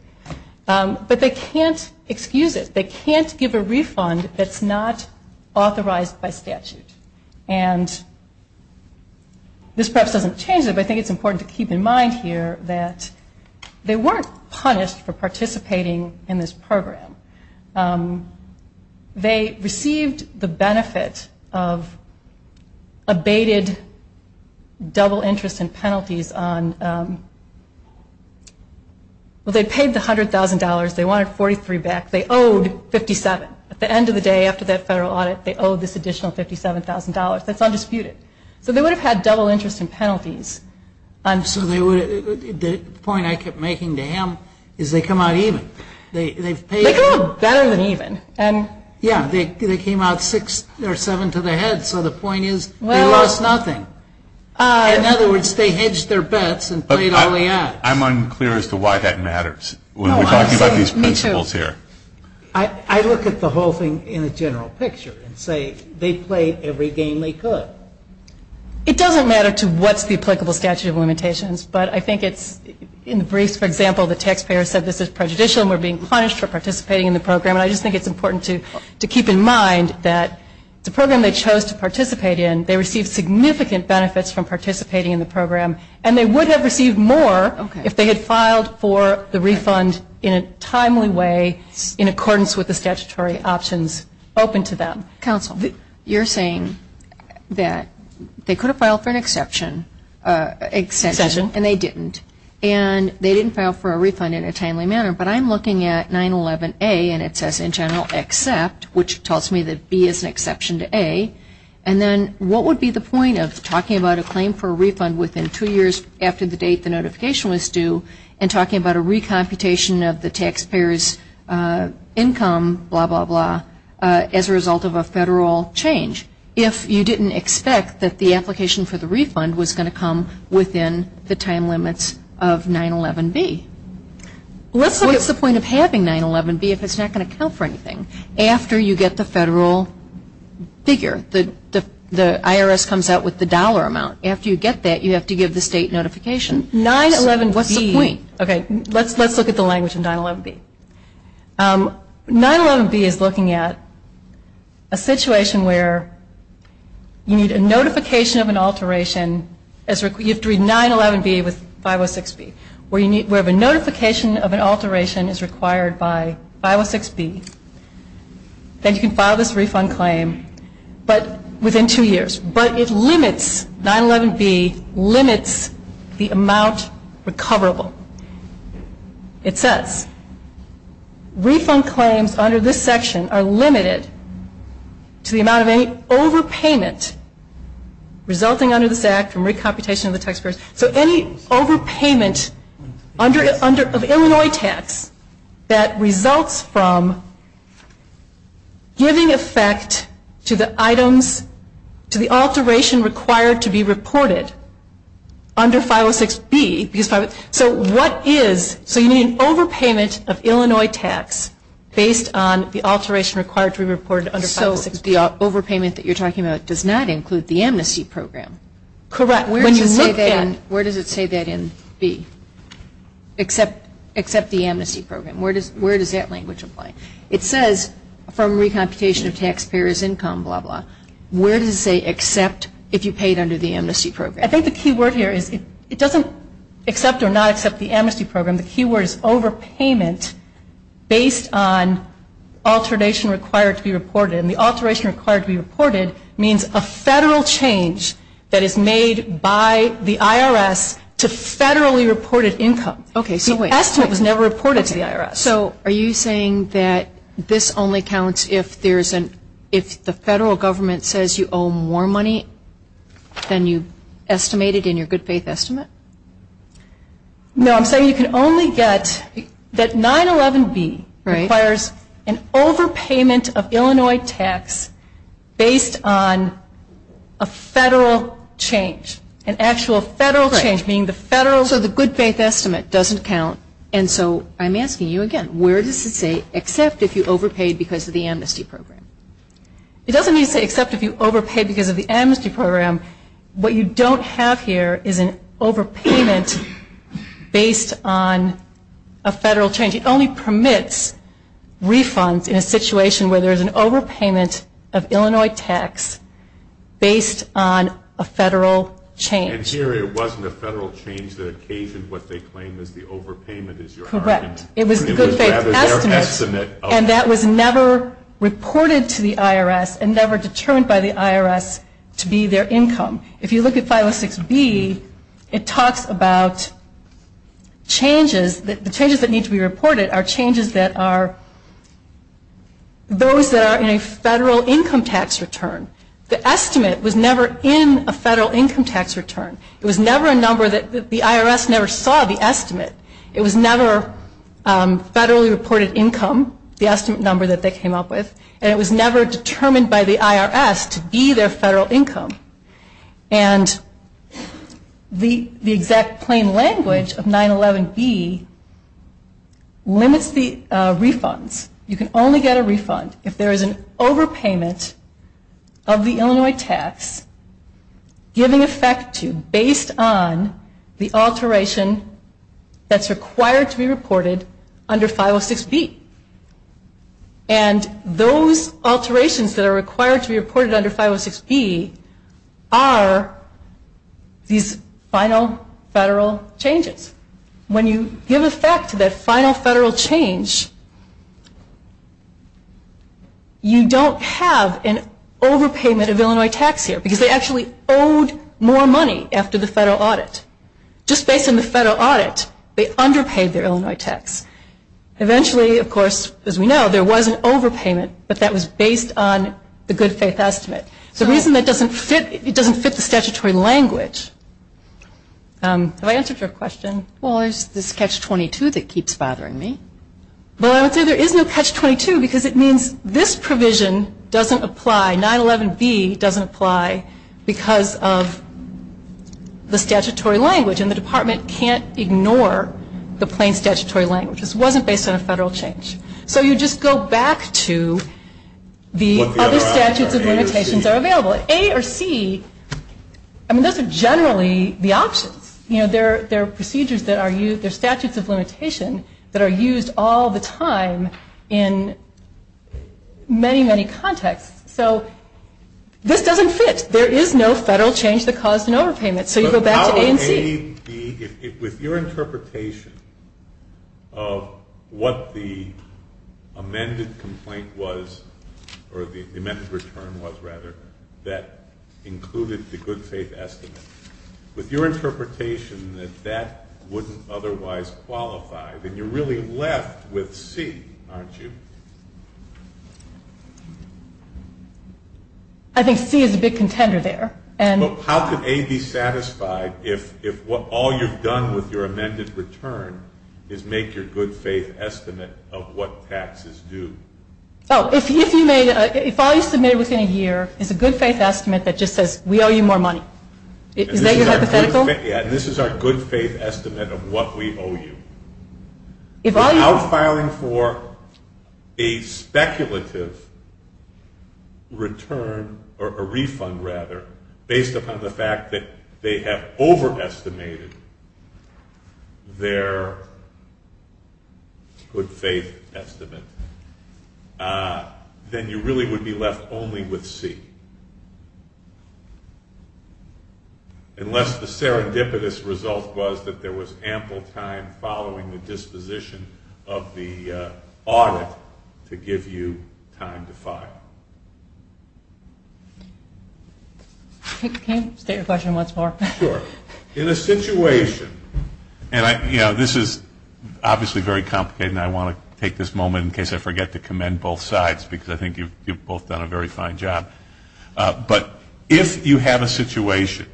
But they can't excuse it. They can't give a refund that's not authorized by statute. And this perhaps doesn't change it, but I think it's important to keep in mind here that they weren't punished for participating in this program. They received the benefit of abated double interest and penalties on, well, they paid the $100,000. They wanted 43 back. They owed 57. At the end of the day, after that federal audit, they owed this additional $57,000. That's undisputed. So they would have had double interest and penalties. The point I kept making to him is they come out even. They come out better than even. Yeah, they came out six or seven to the head. So the point is they lost nothing. In other words, they hedged their bets and played all they had. I'm unclear as to why that matters when we're talking about these principles here. I look at the whole thing in the general picture and say they played every game they could. It doesn't matter to what's the applicable statute of limitations, but I think it's in the brief, for example, the taxpayer said this is prejudicial and we're being punished for participating in the program. I just think it's important to keep in mind that the program they chose to participate in, they received significant benefits from participating in the program, and they would have received more if they had filed for the refund in a timely way in accordance with the statutory options open to them. Counsel, you're saying that they could have filed for an exception and they didn't, and they didn't file for a refund in a timely manner, but I'm looking at 911A and it says in general except, which tells me that B is an exception to A, and then what would be the point of talking about a claim for a refund within two years after the date the notification was due and talking about a recomputation of the taxpayer's income, blah, blah, blah, as a result of a federal change if you didn't expect that the application for the refund was going to come within the time limits of 911B? What's the point of having 911B if it's not going to count for anything? After you get the federal figure, the IRS comes out with the dollar amount. After you get that, you have to give the state notification. 911B. What's the point? Okay, let's look at the language in 911B. 911B is looking at a situation where you need a notification of an alteration. You have to read 911B with 506B, where the notification of an alteration is required by 506B. Then you can file this refund claim, but within two years, but it limits, 911B limits the amount recoverable. It says, refund claims under this section are limited to the amount of any overpayment resulting under this act from recomputation of the taxpayer's, so any overpayment of Illinois caps that results from giving effect to the items, to the alteration required to be reported under 506B. So what is, so you need an overpayment of Illinois tax based on the alteration required to be reported under 506B. So the overpayment that you're talking about does not include the amnesty program. Correct. Where does it say that in B, except the amnesty program? Where does that language apply? It says, from recomputation of taxpayer's income, blah, blah, where does it say except if you paid under the amnesty program? I think the key word here is, it doesn't accept or not accept the amnesty program. The key word is overpayment based on alteration required to be reported. And the alteration required to be reported means a federal change that is made by the IRS to federally reported income. Okay, so the estimate was never reported to the IRS. So are you saying that this only counts if there's an, if the federal government says you owe more money than you estimated in your good faith estimate? No, I'm saying you can only get, that 911B requires an overpayment of Illinois tax based on a federal change, an actual federal change, meaning the federal, so the good faith estimate doesn't count. And so I'm asking you again, where does it say except if you overpaid because of the amnesty program? It doesn't mean to say except if you overpaid because of the amnesty program. What you don't have here is an overpayment based on a federal change. It only permits refunds in a situation where there's an overpayment of Illinois tax based on a federal change. And here it wasn't a federal change that occasioned what they claim is the overpayment is your argument. Correct. Because that is their estimate. And that was never reported to the IRS and never determined by the IRS to be their income. If you look at 506B, it talks about changes, the changes that need to be reported are changes that are, those that are in a federal income tax return. The estimate was never in a federal income tax return. It was never a number that the IRS never saw the estimate. It was never federally reported income, the estimate number that they came up with. And it was never determined by the IRS to be their federal income. And the exact plain language of 911B limits the refunds. You can only get a refund if there is an overpayment of the Illinois tax giving effect to, based on the alteration that's required to be reported under 506B. And those alterations that are required to be reported under 506B are these final federal changes. When you give effect to that final federal change, you don't have an overpayment of Illinois tax here. Because they actually owed more money after the federal audit. Just based on the federal audit, they underpaid their Illinois tax. Eventually, of course, as we know, there was an overpayment, but that was based on the good faith estimate. The reason it doesn't fit the statutory language, if I answer your question, well, there's this catch-22 that keeps bothering me. Well, I would say there is no catch-22 because it means this provision doesn't apply, 911B doesn't apply because of the statutory language. And the department can't ignore the plain statutory language. This wasn't based on a federal change. So you just go back to the other statutes of limitations that are available. A or C, I mean, those are generally the options. There are procedures that are used, there are statutes of limitations that are used all the time in many, many contexts. So this doesn't fit. There is no federal change that caused an overpayment. So you go back to A and C. With your interpretation of what the amended complaint was, or the amended return was, rather, that included the good faith estimate, with your interpretation that that wouldn't otherwise qualify, then you're really left with C, aren't you? I think C is a big contender there. How could A be satisfied if all you've done with your amended return is make your good faith estimate of what taxes do? Oh, if all you submit within a year is a good faith estimate that just says, we owe you more money. Is that your hypothetical? This is our good faith estimate of what we owe you. If you're outfiring for a speculative return, or a refund, rather, based upon the fact that they have overestimated their good faith estimate, then you really would be left only with C. Unless the serendipitous result was that there was ample time following the disposition of the audit to give you time to file. Can you state your question once more? Sure. In a situation, and this is obviously very complicated, and I want to take this moment in case I forget to commend both sides, because I think you've both done a very fine job, but if you have a situation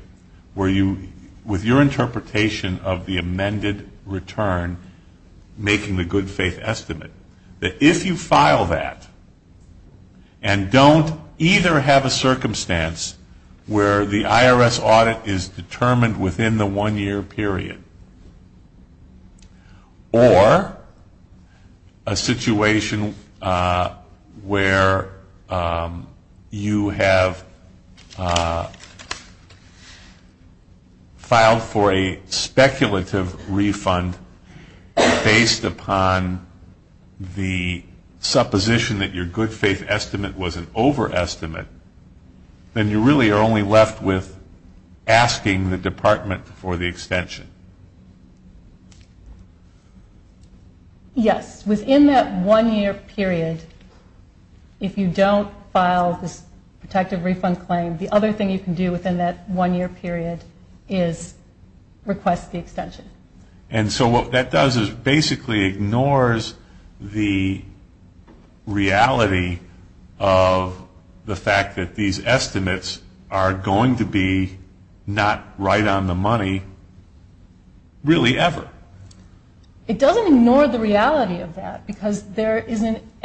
where you, with your interpretation of the amended return, making the good faith estimate, that if you file that, and don't either have a circumstance where the IRS audit is determined within the one-year period, or a situation where you have filed for a speculative refund, based upon the supposition that your good faith estimate was an overestimate, then you really are only left with asking the department for the extension. Yes. Within that one-year period, if you don't file this protective refund claim, the other thing you can do within that one-year period is request the extension. And so what that does is basically ignores the reality of the fact that these estimates are going to be not right on the money really ever. It doesn't ignore the reality of that, because there are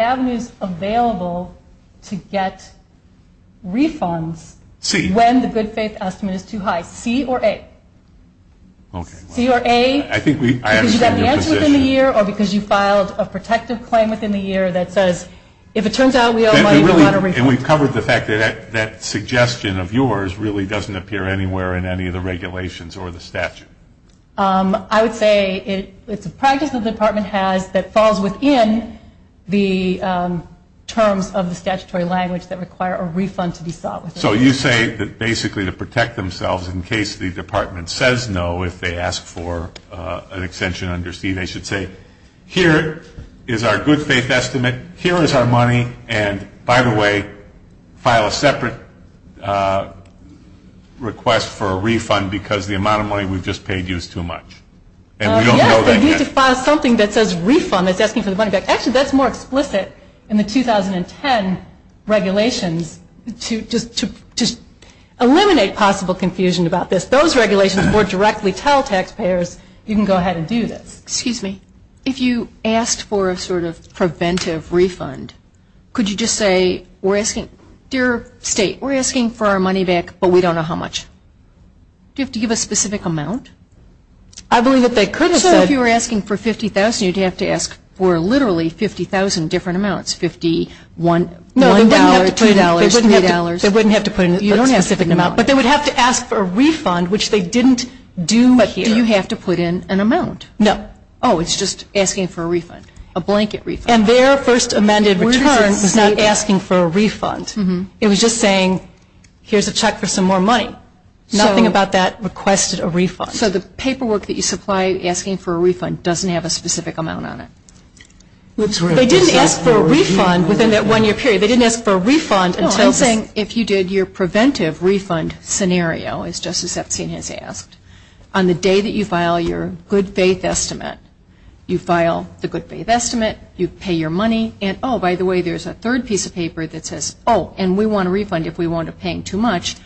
avenues available to get refunds when the good faith estimate is too high. C or A. Okay. C or A, because you got the answer within the year, or because you filed a protective claim within the year that says, if it turns out we owe money, we ought to refund. And we've covered the fact that that suggestion of yours really doesn't appear anywhere in any of the regulations or the statute. I would say it's a practice the department has that falls within the terms of the statutory language that require a refund to be filed. So you say that basically to protect themselves in case the department says no, if they ask for an extension under C, they should say, here is our good faith estimate, here is our money, and by the way, file a separate request for a refund, because the amount of money we've just paid you is too much. And we don't know that yet. Yeah, so you could file something that says refund that just means there's money back. Actually, that's more explicit in the 2010 regulations to eliminate possible confusion about this. Those regulations more directly tell taxpayers you can go ahead and do this. Excuse me. If you asked for a sort of preventive refund, could you just say, dear state, we're asking for our money back, but we don't know how much. Do you have to give a specific amount? I believe what they could have said. If you were asking for $50,000, you'd have to ask for literally 50,000 different amounts, $51,000, $2,000, $3,000. They wouldn't have to put in a specific amount, but they would have to ask for a refund, which they didn't do here. But do you have to put in an amount? No. Oh, it's just asking for a refund, a blanket refund. And their first amended return was not asking for a refund. It was just saying, here's a check for some more money. Nothing about that requested a refund. So the paperwork that you supply asking for a refund doesn't have a specific amount on it. They didn't ask for a refund within that one-year period. They didn't ask for a refund. No, I'm saying if you did your preventive refund scenario, as Justice Epstein has asked, on the day that you file your good faith estimate, you file the good faith estimate, you pay your money, and oh, by the way, there's a third piece of paper that says, oh, and we want a refund if we wound up paying too much.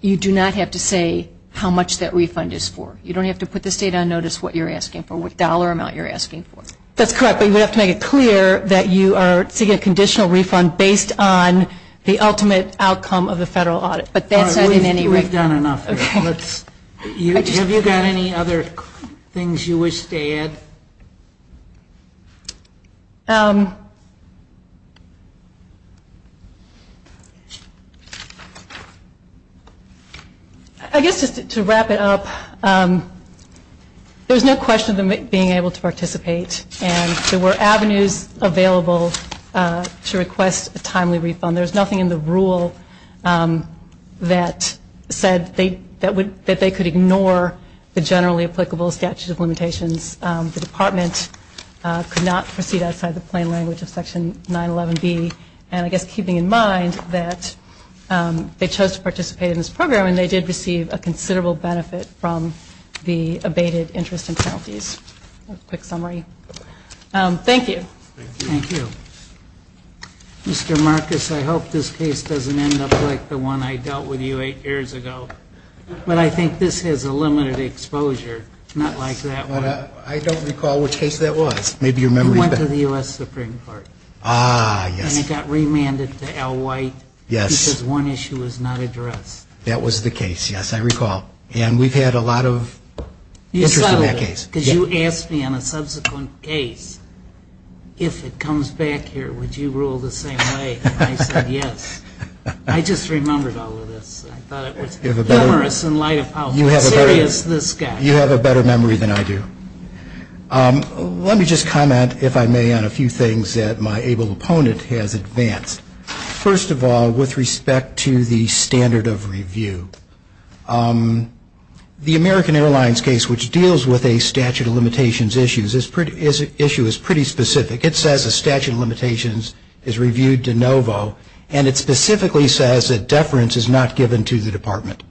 You do not have to say how much that refund is for. You don't have to put the state on notice what you're asking for, what dollar amount you're asking for. That's correct. But you have to make it clear that you are seeking a conditional refund based on the ultimate outcome of the federal audit. But that's that in any way. All right. We've done enough. Okay. Have you got any other things you wish to add? I guess just to wrap it up, there's no question of them being able to participate, and there were avenues available to request a timely refund. There's nothing in the rule that said that they could ignore the generally applicable statute of limitations. The Department could not proceed outside the plain language of Section 911B, and I guess keeping in mind that they chose to participate in this program, and they did receive a considerable benefit from the abated interest and penalties. A quick summary. Thank you. Thank you. Mr. Marcus, I hope this case doesn't end up like the one I dealt with you eight years ago. But I think this is a limited exposure, not like that one. I don't recall which case that was. Maybe you remember. It was the one to the U.S. Supreme Court. Ah, yes. And it got remanded to Al White. Yes. He says one issue was not addressed. That was the case, yes, I recall. And we've had a lot of interest in that case. Because you asked me on a subsequent case, if it comes back here, would you rule the same way? I said yes. I just remembered all of this. I thought it was humorous in light of how serious this guy is. You have a better memory than I do. Let me just comment, if I may, on a few things that my able opponent has advanced. First of all, with respect to the standard of review, the American Airlines case, which deals with a statute of limitations issue, is pretty specific. It says a statute of limitations is reviewed de novo. And it specifically says that deference is not given to the department.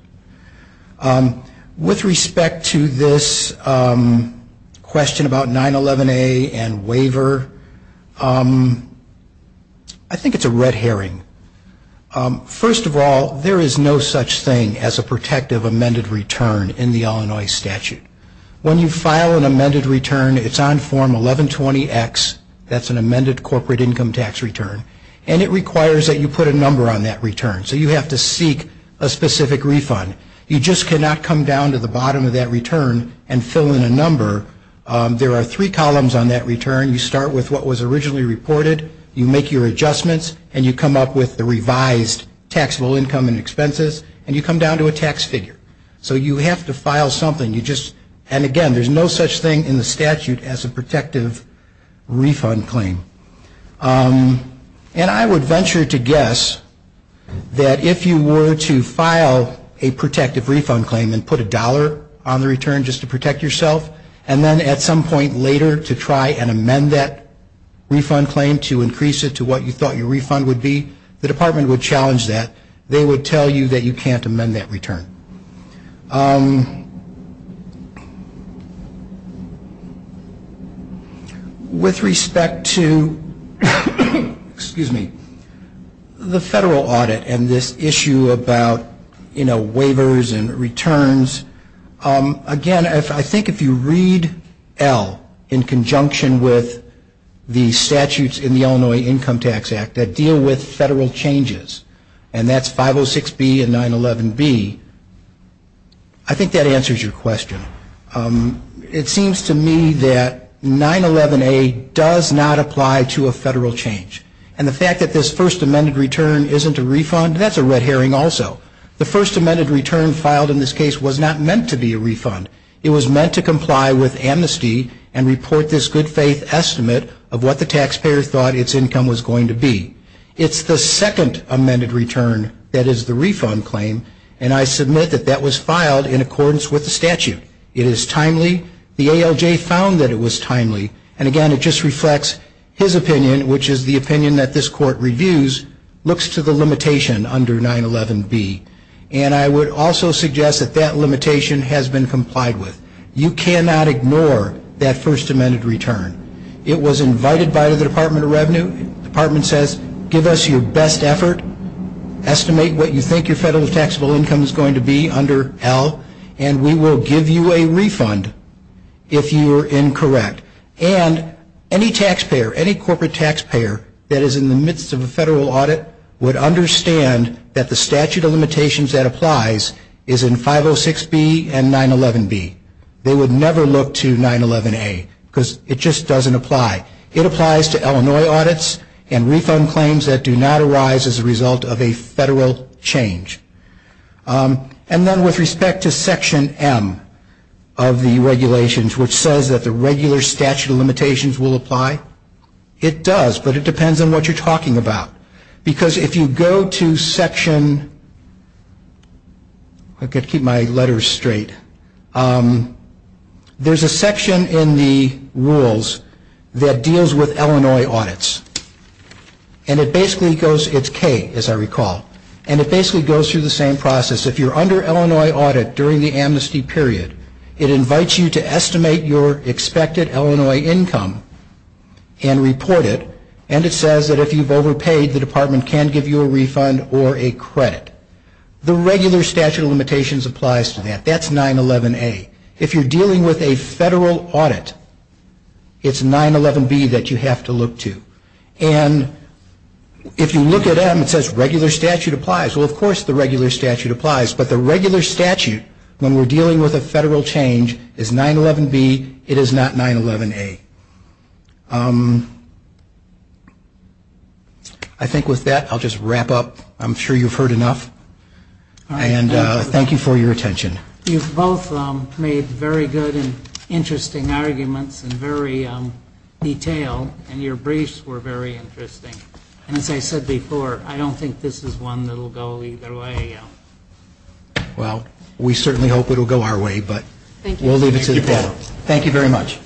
With respect to this question about 911A and waiver, I think it's a red herring. First of all, there is no such thing as a protective amended return in the Illinois statute. When you file an amended return, it's on form 1120X. That's an amended corporate income tax return. And it requires that you put a number on that return. So you have to seek a specific refund. You just cannot come down to the bottom of that return and fill in a number. There are three columns on that return. You start with what was originally reported. You make your adjustments. And you come up with the revised taxable income and expenses. And you come down to a tax figure. So you have to file something. And, again, there's no such thing in the statute as a protective refund claim. And I would venture to guess that if you were to file a protective refund claim and put a dollar on the return just to protect yourself, and then at some point later to try and amend that refund claim to increase it to what you thought your refund would be, the department would challenge that. They would tell you that you can't amend that return. With respect to the federal audit and this issue about waivers and returns, again, I think if you read L in conjunction with the statutes in the Illinois Income Tax Act that deal with federal changes, and that's 506B and 911B, I think that answers your question. It seems to me that 911A does not apply to a federal change. And the fact that this first amended return isn't a refund, that's a red herring also. The first amended return filed in this case was not meant to be a refund. It was meant to comply with amnesty and report this good faith estimate of what the taxpayer thought its income was going to be. It's the second amended return that is the refund claim, and I submit that that was filed in accordance with the statute. It is timely. The ALJ found that it was timely. And again, it just reflects his opinion, which is the opinion that this court reviews, looks to the limitation under 911B. And I would also suggest that that limitation has been complied with. You cannot ignore that first amended return. It was invited by the Department of Revenue. The Department says give us your best effort, estimate what you think your federal taxable income is going to be under L, and we will give you a refund if you are incorrect. And any taxpayer, any corporate taxpayer that is in the midst of a federal audit would understand that the statute of limitations that applies is in 506B and 911B. They would never look to 911A because it just doesn't apply. It applies to Illinois audits and refund claims that do not arise as a result of a federal change. And then with respect to Section M of the regulations, which says that the regular statute of limitations will apply, it does, but it depends on what you're talking about. Because if you go to Section – I've got to keep my letters straight. There's a section in the rules that deals with Illinois audits. And it basically goes – it's K, as I recall. And it basically goes through the same process. If you're under Illinois audit during the amnesty period, it invites you to estimate your expected Illinois income and report it. And it says that if you've overpaid, the department can give you a refund or a credit. The regular statute of limitations applies to that. That's 911A. If you're dealing with a federal audit, it's 911B that you have to look to. And if you look at M, it says regular statute applies. Well, of course the regular statute applies. But the regular statute, when we're dealing with a federal change, is 911B. It is not 911A. I think with that, I'll just wrap up. I'm sure you've heard enough. And thank you for your attention. You've both made very good and interesting arguments in very detail. And your briefs were very interesting. And as I said before, I don't think this is one that will go either way. Well, we certainly hope it will go our way. But we'll leave it at that. Thank you very much.